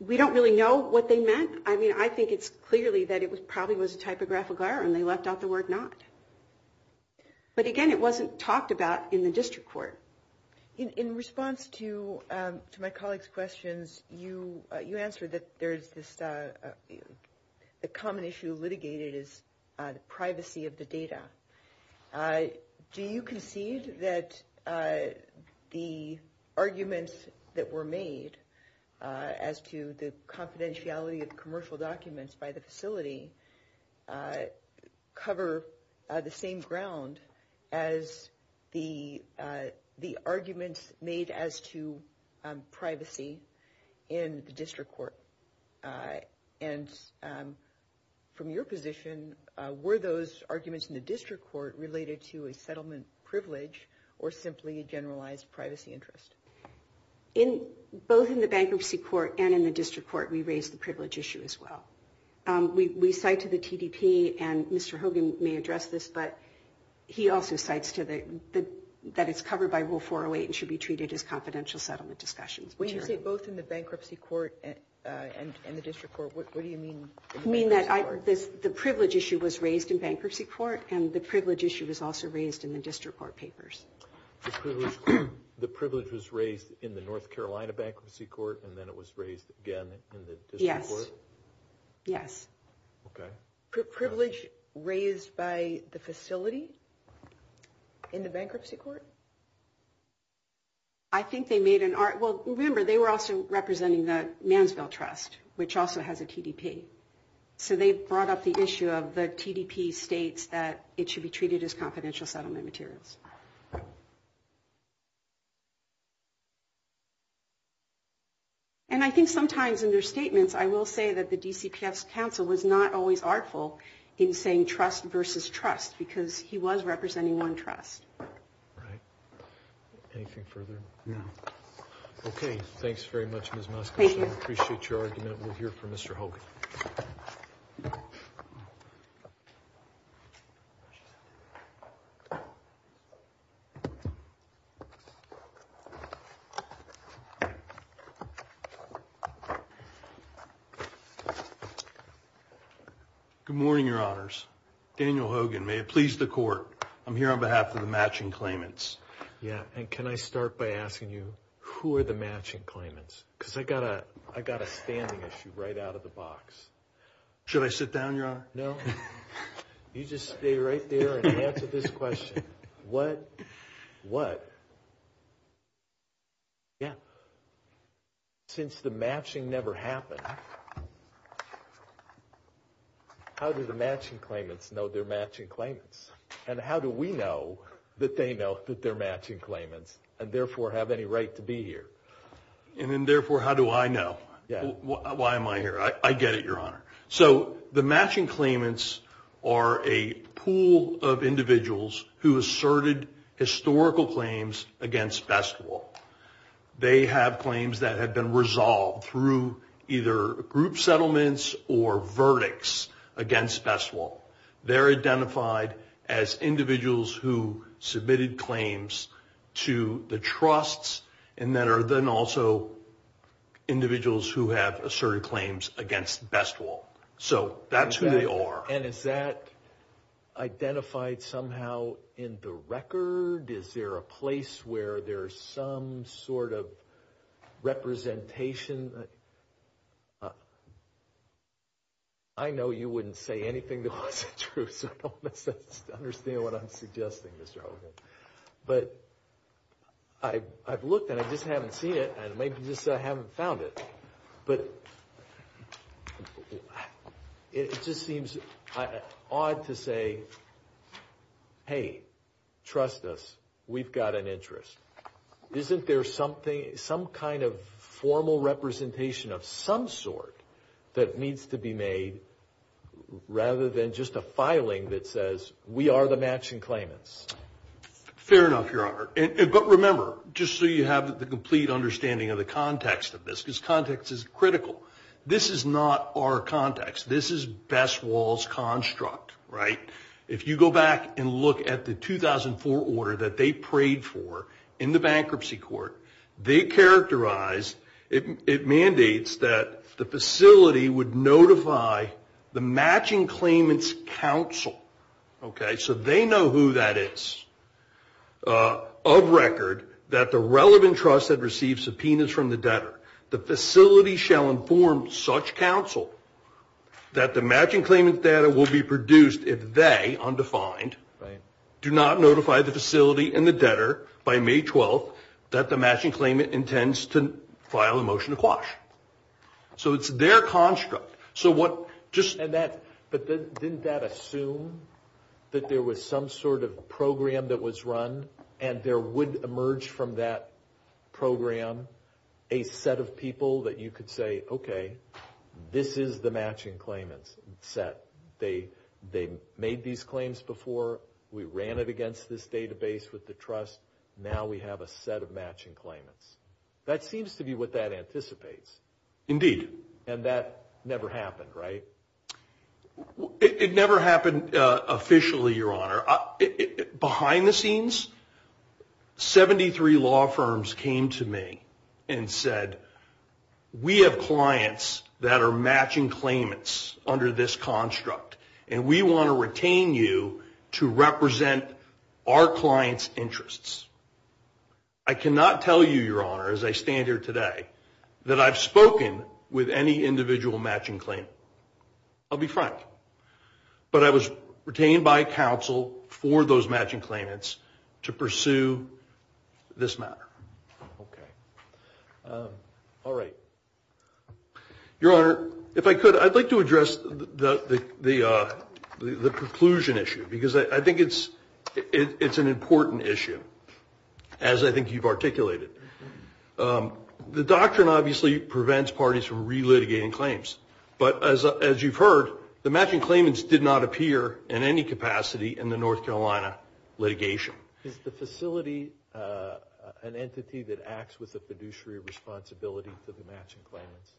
we don't really know what they meant. I mean, I think it's clearly that it probably was a typographical error when they left out the word not. But again, it wasn't talked about in the district court. In response to my colleague's questions, you answered that there's this common issue litigated as privacy of the data. Do you concede that the arguments that were made as to the confidentiality of commercial documents by the facility cover the same ground as the arguments made as to privacy in the district court? And from your position, were those arguments in the district court related to a settlement privilege or simply generalized privacy interest? In both in the bankruptcy court and in the district court, we raised the privilege issue as well. We cite to the TDP, and Mr. Hogan may address this, but he also cites that it's covered by Rule 408 and should be treated as confidential settlement discussions. When you say both in the bankruptcy court and the district court, what do you mean? I mean that the privilege issue was raised in bankruptcy court, and the privilege issue was also raised in the district court papers. The privilege was raised in the North Carolina bankruptcy court, and then it was raised again in the district court? Yes. Yes. Okay. Privilege raised by the facility in the bankruptcy court? I think they made an argument. Well, remember, they were also representing the Mansfield Trust, which also has a TDP. So they brought up the issue of the TDP states that it should be treated as confidential settlement materials. And I think sometimes in their statements, I will say that the D.C. Council was not always artful in saying trust versus trust because he was representing one trust. All right. Anything further? No. Okay. Thanks very much, Ms. Muskelson. Thank you. I appreciate your argument. We'll hear from Mr. Hogan. Good morning, Your Honors. Daniel Hogan. May it please the Court, I'm here on behalf of the matching claimants. Yeah. And can I start by asking you, who are the matching claimants? Because I got a standing issue right out of the box. Should I sit down, Your Honor? No. You just stay right there and answer this question. What? What? Yeah. Since the matching never happened, how do the matching claimants know they're matching claimants? And how do we know that they know that they're matching claimants and, therefore, have any right to be here? And then, therefore, how do I know? Yeah. Why am I here? I get it, Your Honor. So the matching claimants are a pool of individuals who asserted historical claims against best law. They have claims that have been resolved through either group settlements or verdicts against best law. They're identified as individuals who submitted claims to the trusts and that are then also individuals who have asserted claims against best law. So that's who they are. And is that identified somehow in the record? Is there a place where there's some sort of representation? I know you wouldn't say anything that wasn't true, so I don't know if I understand what I'm suggesting, Mr. Hogan. But I've looked and I just haven't seen it and maybe just haven't found it. But it just seems odd to say, hey, trust us, we've got an interest. Isn't there something, some kind of formal representation of some sort that needs to be made rather than just a filing that says we are the matching claimants? But remember, just so you have the complete understanding of the context of this, because context is critical. This is not our context. This is Best Law's construct, right? If you go back and look at the 2004 order that they prayed for in the bankruptcy court, they characterized, it mandates that the facility would notify the matching claimants' counsel. So they know who that is, of record, that the relevant trust had received subpoenas from the debtor. The facility shall inform such counsel that the matching claimant data will be produced if they, undefined, do not notify the facility and the debtor by May 12th that the matching claimant intends to file a motion to quash. So it's their construct. But didn't that assume that there was some sort of program that was run and there would emerge from that program a set of people that you could say, okay, this is the matching claimant set. They made these claims before. We ran it against this database with the trust. Now we have a set of matching claimants. That seems to be what that anticipates. Indeed. And that never happened, right? It never happened officially, Your Honor. Behind the scenes, 73 law firms came to me and said, we have clients that are matching claimants under this construct, and we want to retain you to represent our clients' interests. I cannot tell you, Your Honor, as I stand here today, that I've spoken with any individual matching claimant. I'll be frank. But I was retained by counsel for those matching claimants to pursue this matter. Okay. All right. Your Honor, if I could, I'd like to address the conclusion issue, because I think it's an important issue. As I think you've articulated. The doctrine obviously prevents parties from relitigating claims. But as you've heard, the matching claimants did not appear in any capacity in the North Carolina litigation. Is the facility an entity that acts with the fiduciary responsibility for the matching claimants?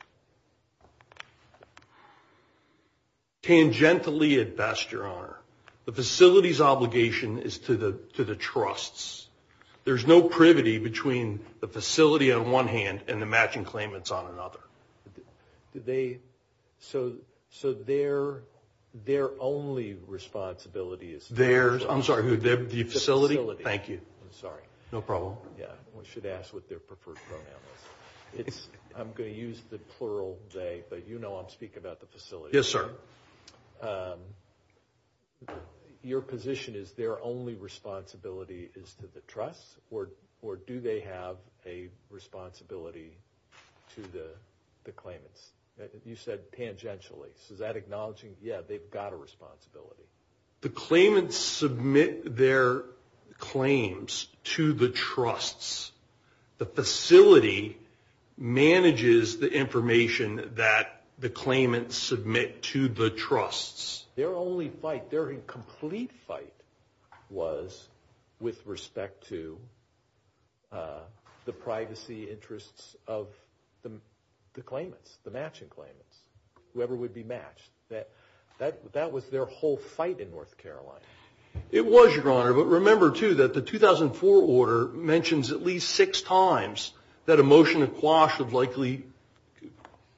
Tangentially at best, Your Honor. The facility's obligation is to the trusts. There's no privity between the facility on one hand and the matching claimants on another. So their only responsibility is to the facility. I'm sorry, the facility? Thank you. I'm sorry. No problem. We should ask what their preferred pronoun is. I'm going to use the plural today, but you know I'm speaking about the facility. Yes, sir. Your position is their only responsibility is to the trust, or do they have a responsibility to the claimants? You said tangentially. So that acknowledges, yeah, they've got a responsibility. The claimants submit their claims to the trusts. The facility manages the information that the claimants submit to the trusts. Their only fight, their complete fight, was with respect to the privacy interests of the claimants, the matching claimants, whoever would be matched. That was their whole fight in North Carolina. It was, Your Honor, but remember, too, that the 2004 order mentions at least six times that a motion to quash would likely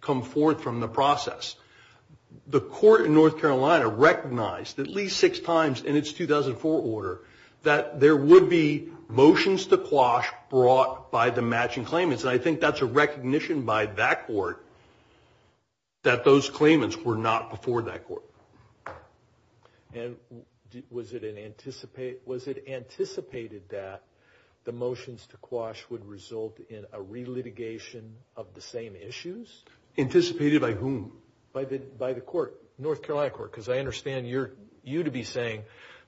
come forth from the process. The court in North Carolina recognized at least six times in its 2004 order that there would be motions to quash brought by the matching claimants, and I think that's a recognition by that court that those claimants were not before that court. And was it anticipated that the motions to quash would result in a re-litigation of the same issues? Anticipated by whom? By the court, North Carolina court, because I understand you to be saying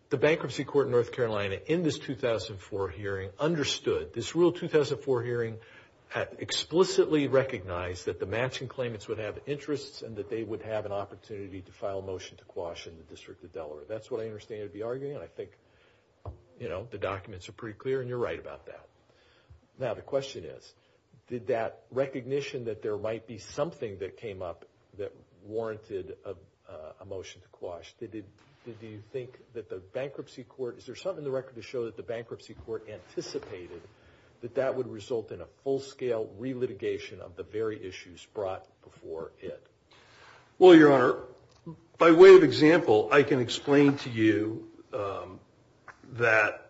the bankruptcy court in North Carolina in this 2004 hearing understood, this real 2004 hearing explicitly recognized that the matching claimants would have interests and that they would have an interest in a motion to quash in the District of Delaware. That's what I understand you to be arguing, and I think the documents are pretty clear, and you're right about that. Now, the question is, did that recognition that there might be something that came up that warranted a motion to quash, did you think that the bankruptcy court, is there something in the record that shows the bankruptcy court anticipated that that would result in a full-scale re-litigation of the very issues brought before it? Well, Your Honor, by way of example, I can explain to you that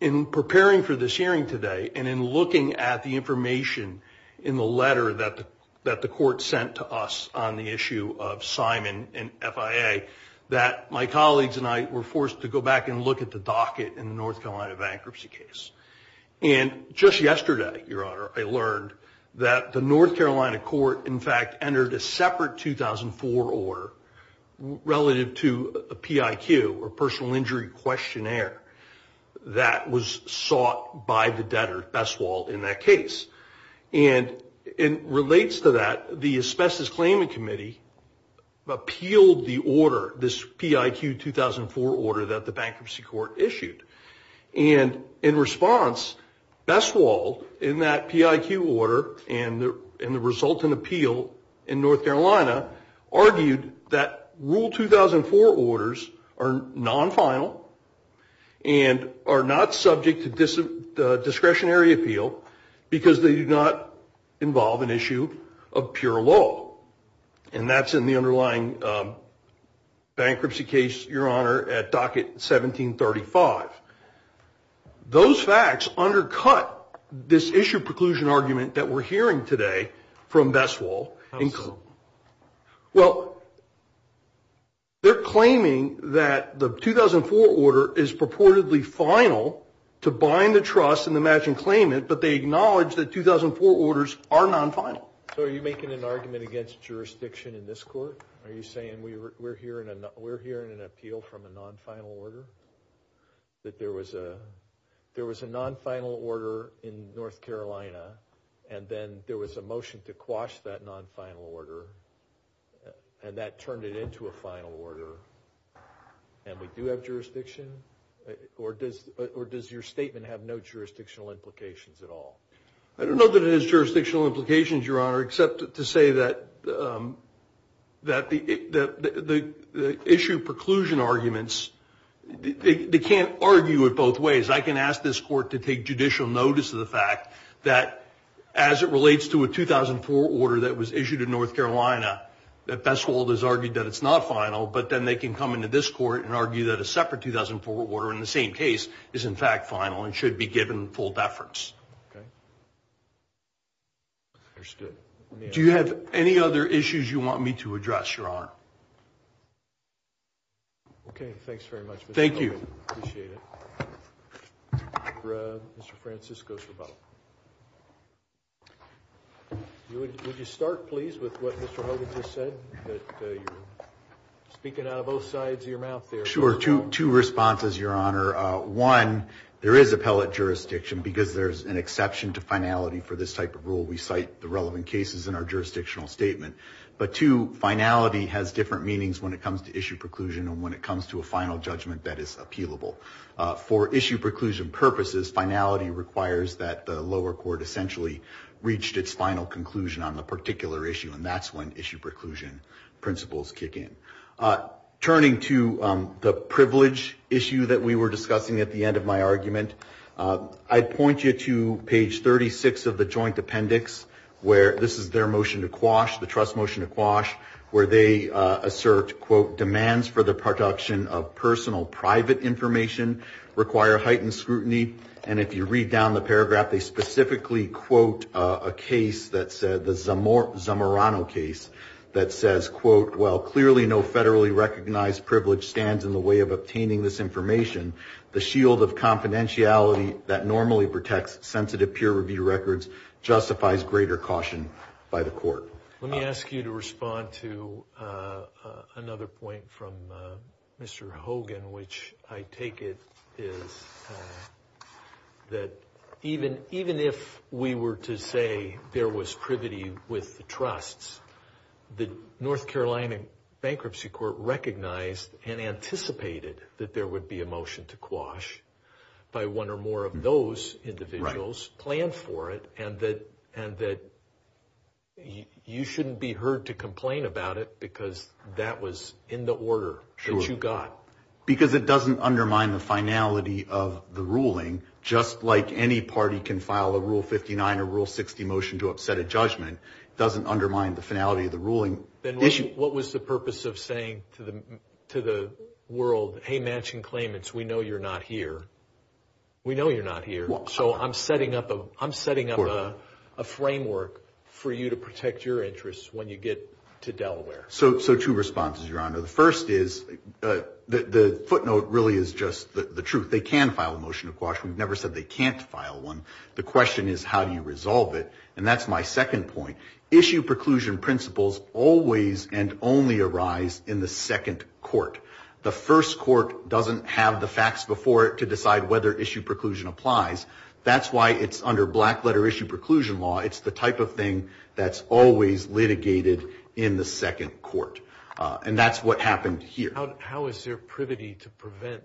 in preparing for this hearing today and in looking at the information in the letter that the court sent to us on the issue of Simon and FIA, that my colleagues and I were forced to go back and look at the docket in the North Carolina bankruptcy case. And just yesterday, Your Honor, I learned that the North Carolina court, in fact, entered a separate 2004 order relative to a PIQ, or personal injury questionnaire, that was sought by the debtor, Bestwald, in that case. And it relates to that the Asbestos Claiming Committee appealed the order, this PIQ 2004 order that the bankruptcy court issued. And in response, Bestwald, in that PIQ order and the resultant appeal in North Carolina, argued that Rule 2004 orders are non-final and are not subject to discretionary appeal because they do not involve an issue of pure law. And that's in the underlying bankruptcy case, Your Honor, at docket 1735. Those facts undercut this issue preclusion argument that we're hearing today from Bestwald. Well, they're claiming that the 2004 order is purportedly final to bind the trust and imagine claimant, but they acknowledge that 2004 orders are non-final. So are you making an argument against jurisdiction in this court? Are you saying we're hearing an appeal from a non-final order, that there was a non-final order in North Carolina, and then there was a motion to quash that non-final order, and that turned it into a final order, and we do have jurisdiction? Or does your statement have no jurisdictional implications at all? I don't know that it has jurisdictional implications, Your Honor, except to say that the issue of preclusion arguments, they can't argue it both ways. I can ask this court to take judicial notice of the fact that as it relates to a 2004 order that was issued in North Carolina, that Bestwald has argued that it's not final, but then they can come into this court and argue that a separate 2004 order in the same case is in fact final and should be given full deference. Do you have any other issues you want me to address, Your Honor? Okay, thanks very much, Mr. Hogan. Thank you. Appreciate it. Mr. Francisco is the model. Would you start, please, with what Mr. Hogan just said? Speaking out of both sides of your mouth there. Sure. Two responses, Your Honor. One, there is appellate jurisdiction because there's an exception to finality for this type of rule. We cite the relevant cases in our jurisdictional statement. But two, finality has different meanings when it comes to issue preclusion and when it comes to a final judgment that is appealable. For issue preclusion purposes, finality requires that the lower court essentially reached its final conclusion on the particular issue, and that's when issue preclusion principles kick in. Turning to the privilege issue that we were discussing at the end of my argument, I point you to page 36 of the joint appendix where this is their motion to quash, the trust motion to quash, where they assert, quote, demands for the production of personal private information require heightened scrutiny. And if you read down the paragraph, they specifically quote a case that said, the Zamorano case, that says, quote, while clearly no federally recognized privilege stands in the way of obtaining this information, the shield of confidentiality that normally protects sensitive peer-reviewed records justifies greater caution by the court. Let me ask you to respond to another point from Mr. Hogan, which I take it is that even if we were to say there was privity with the trusts, the North Carolina Bankruptcy Court recognized and anticipated that there would be a motion to quash by one or more of those individuals, planned for it, and that you shouldn't be heard to complain about it because that was in the order that you got. Because it doesn't undermine the finality of the ruling, just like any party can file a Rule 59 or Rule 60 motion to upset a judgment. It doesn't undermine the finality of the ruling. Then what was the purpose of saying to the world, hey, matching claimants, we know you're not here. We know you're not here. So I'm setting up a framework for you to protect your interests when you get to Delaware. So two responses, Your Honor. The first is, the footnote really is just the truth. They can file a motion to quash. We've never said they can't file one. The question is, how do you resolve it? And that's my second point. Issue preclusion principles always and only arise in the second court. The first court doesn't have the facts before it to decide whether issue preclusion applies. That's why it's under black-letter issue preclusion law. It's the type of thing that's always litigated in the second court. And that's what happened here. How is there privity to prevent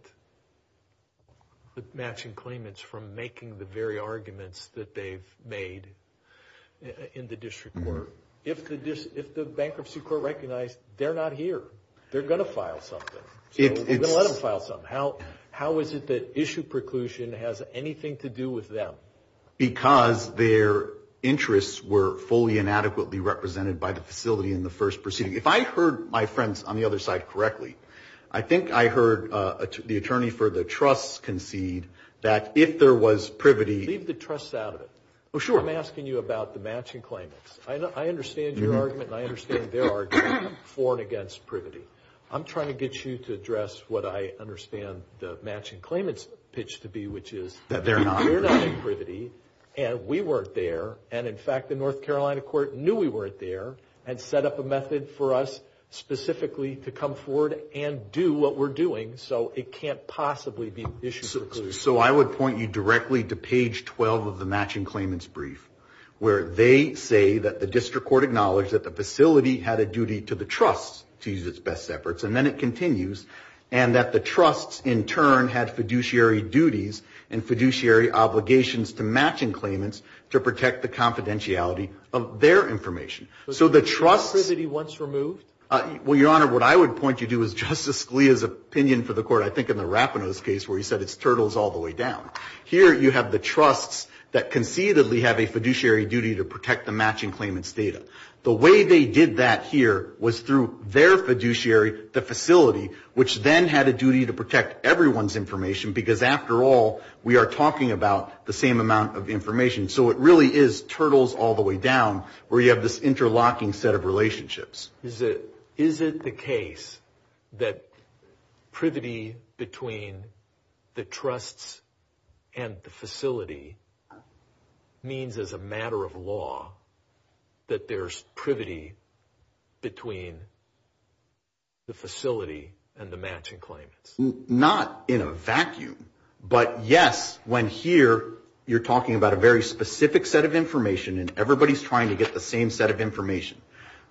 the matching claimants from making the very arguments that they've made in the district court? If the bankruptcy court recognized they're not here, they're going to file something. They're going to let them file something. How is it that issue preclusion has anything to do with them? Because their interests were fully and adequately represented by the facility in the first proceeding. If I heard my friends on the other side correctly, I think I heard the attorney for the trusts concede that if there was privity. Leave the trusts out of it. Oh, sure. I'm asking you about the matching claimants. I understand your argument and I understand their argument for and against privity. I'm trying to get you to address what I understand the matching claimants pitch to be, which is that they're not in privity and we weren't there. And, in fact, the North Carolina court knew we weren't there and set up a method for us specifically to come forward and do what we're doing. So it can't possibly be an issue preclusion. So I would point you directly to page 12 of the matching claimants brief where they say that the district court acknowledged that the facility had a duty to the trusts to use its best efforts. And then it continues and that the trusts in turn had fiduciary duties and fiduciary obligations to matching claimants to protect the confidentiality of their information. So the trust that he wants removed? Well, Your Honor, what I would point you to is Justice Scalia's opinion for the court, I think in the Rapinos case where he said it's turtles all the way down. Here you have the trusts that conceivably have a fiduciary duty to protect the matching claimants data. The way they did that here was through their fiduciary, the facility, which then had a duty to protect everyone's information because, after all, we are talking about the same amount of information. So it really is turtles all the way down where you have this interlocking set of relationships. Is it the case that privity between the trusts and the facility means as a matter of law that there's privity between the facility and the matching claimants? Not in a vacuum, but yes, when here you're talking about a very specific set of information and everybody's trying to get the same set of information.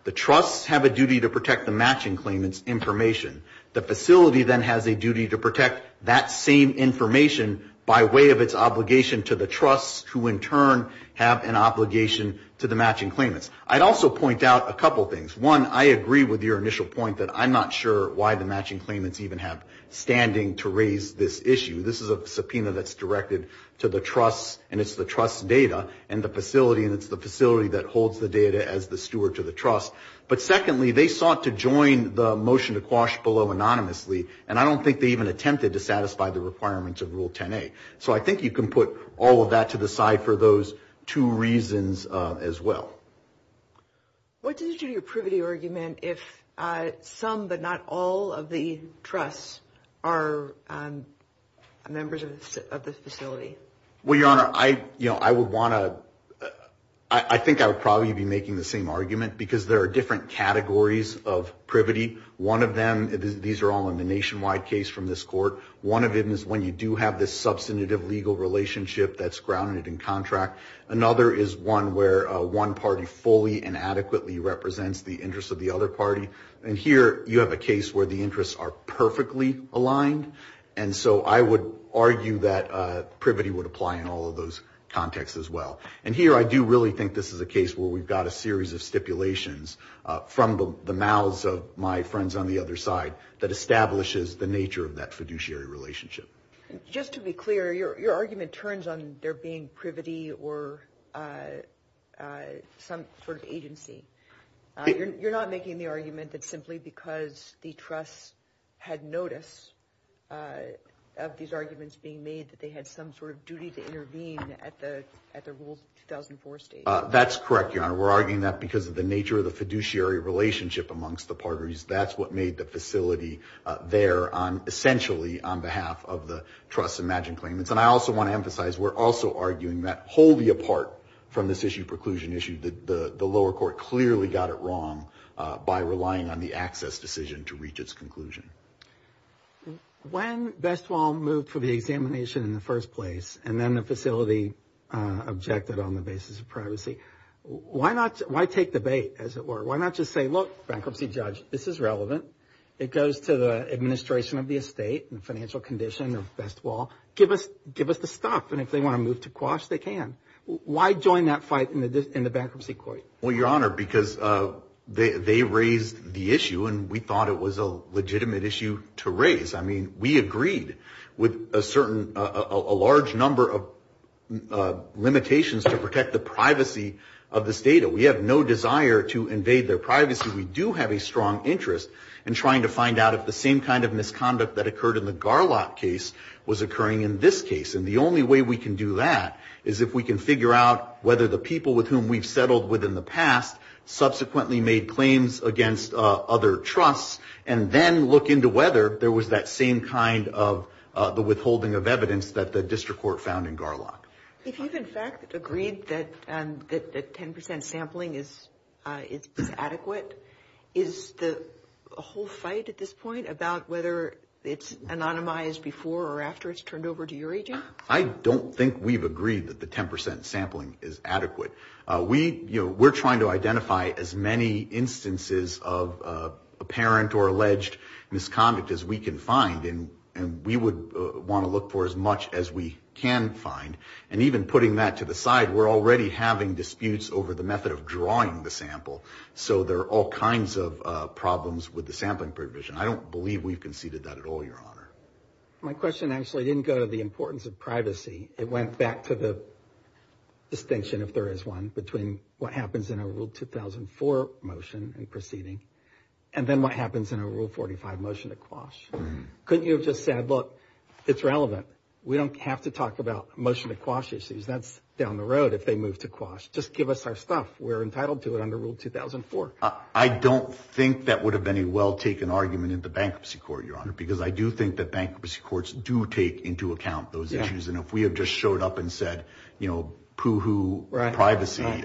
The trusts have a duty to protect the matching claimants' information. The facility then has a duty to protect that same information by way of its obligation to the trusts, who in turn have an obligation to the matching claimants. I'd also point out a couple things. One, I agree with your initial point that I'm not sure why the matching claimants even have standing to raise this issue. This is a subpoena that's directed to the trusts, and it's the trust's data, and it's the facility that holds the data as the steward to the trust. But secondly, they sought to join the motion to quash below anonymously, and I don't think they even attempted to satisfy the requirements of Rule 10a. So I think you can put all of that to the side for those two reasons as well. What is your privity argument if some but not all of the trusts are members of this facility? Well, Your Honor, I think I would probably be making the same argument because there are different categories of privity. One of them, these are all in the nationwide case from this court. One of them is when you do have this substantive legal relationship that's grounded in contract. Another is one where one party fully and adequately represents the interests of the other party. And here you have a case where the interests are perfectly aligned, and so I would argue that privity would apply in all of those contexts as well. And here I do really think this is a case where we've got a series of stipulations from the mouths of my friends on the other side that establishes the nature of that fiduciary relationship. Just to be clear, your argument turns on there being privity or some sort of agency. You're not making the argument that simply because the trust had noticed of these arguments being made that they had some sort of duty to intervene at the Rule 2004 stage? That's correct, Your Honor. We're arguing that because of the nature of the fiduciary relationship amongst the parties. That's what made the facility there essentially on behalf of the trust imagine claimants. And I also want to emphasize, we're also arguing that wholly apart from this issue, preclusion issue, the lower court clearly got it wrong by relying on the access decision to reach its conclusion. When Bestwall moved for the examination in the first place and then the facility objected on the basis of privacy, why take the bait, as it were? Why not just say, look, bankruptcy judge, this is relevant. It goes to the administration of the estate and financial condition of Bestwall. Give us the stuff, and if they want to move to Quash, they can. Why join that fight in the bankruptcy court? Well, Your Honor, because they raised the issue, and we thought it was a legitimate issue to raise. I mean, we agreed with a large number of limitations to protect the privacy of this data. We have no desire to invade their privacy. We do have a strong interest in trying to find out if the same kind of misconduct that occurred in the Garlock case was occurring in this case. And the only way we can do that is if we can figure out whether the people with whom we've settled with in the past subsequently made claims against other trusts and then look into whether there was that same kind of withholding of evidence that the district court found in Garlock. If you've, in fact, agreed that 10% sampling is adequate, is the whole fight at this point about whether it's anonymized before or after it's turned over to your agent? I don't think we've agreed that the 10% sampling is adequate. We're trying to identify as many instances of apparent or alleged misconduct as we can find, and we would want to look for as much as we can find. And even putting that to the side, we're already having disputes over the method of drawing the sample. So there are all kinds of problems with the sampling provision. I don't believe we've conceded that at all, Your Honor. My question actually didn't go to the importance of privacy. It went back to the distinction, if there is one, between what happens in a Rule 2004 motion in proceeding and then what happens in a Rule 45 motion to quash. Couldn't you have just said, look, it's relevant. We don't have to talk about motion to quash issues. That's down the road if they move to quash. Just give us our stuff. We're entitled to it under Rule 2004. I don't think that would have been a well-taken argument in the bankruptcy court, Your Honor, because I do think that bankruptcy courts do take into account those issues. And if we had just showed up and said, you know, poo-hoo privacy,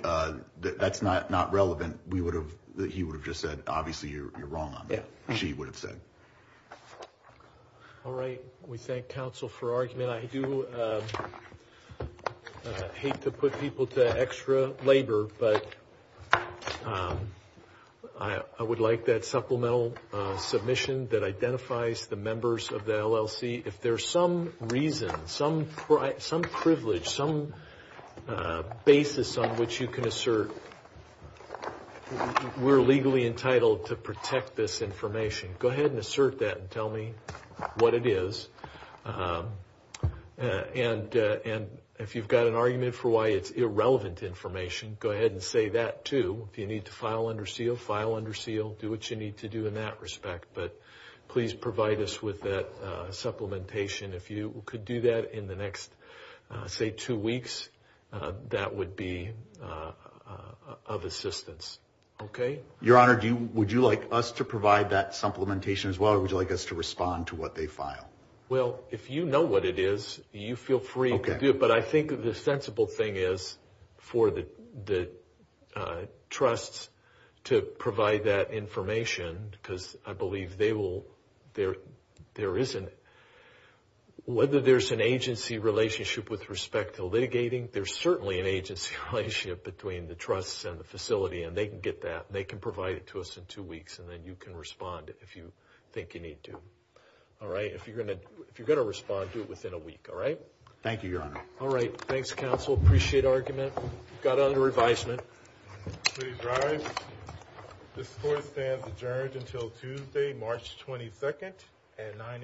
that's not relevant. He would have just said, obviously, you're wrong on that. She would have said. All right. We thank counsel for argument. I do hate to put people to extra labor, but I would like that supplemental submission that identifies the members of the LLC. If there's some reason, some privilege, some basis on which you can assert we're legally entitled to protect this information, go ahead and assert that and tell me what it is. And if you've got an argument for why it's irrelevant information, go ahead and say that too. Do you need to file under seal? File under seal. Do what you need to do in that respect. But please provide us with that supplementation. If you could do that in the next, say, two weeks, that would be of assistance. Okay? Your Honor, would you like us to provide that supplementation as well, or would you like us to respond to what they file? Well, if you know what it is, you feel free to do it. But I think the sensible thing is for the trusts to provide that information, because I believe they will, there isn't, whether there's an agency relationship with respect to litigating, there's certainly an agency relationship between the trusts and the facility, and they can get that, and they can provide it to us in two weeks, and then you can respond if you think you need to. All right? If you're going to respond, do it within a week. All right? Thank you, Your Honor. All right. Thanks, counsel. Appreciate the argument. We've got another advisement. Please rise. This court stands adjourned until Tuesday, March 22nd at 9 a.m.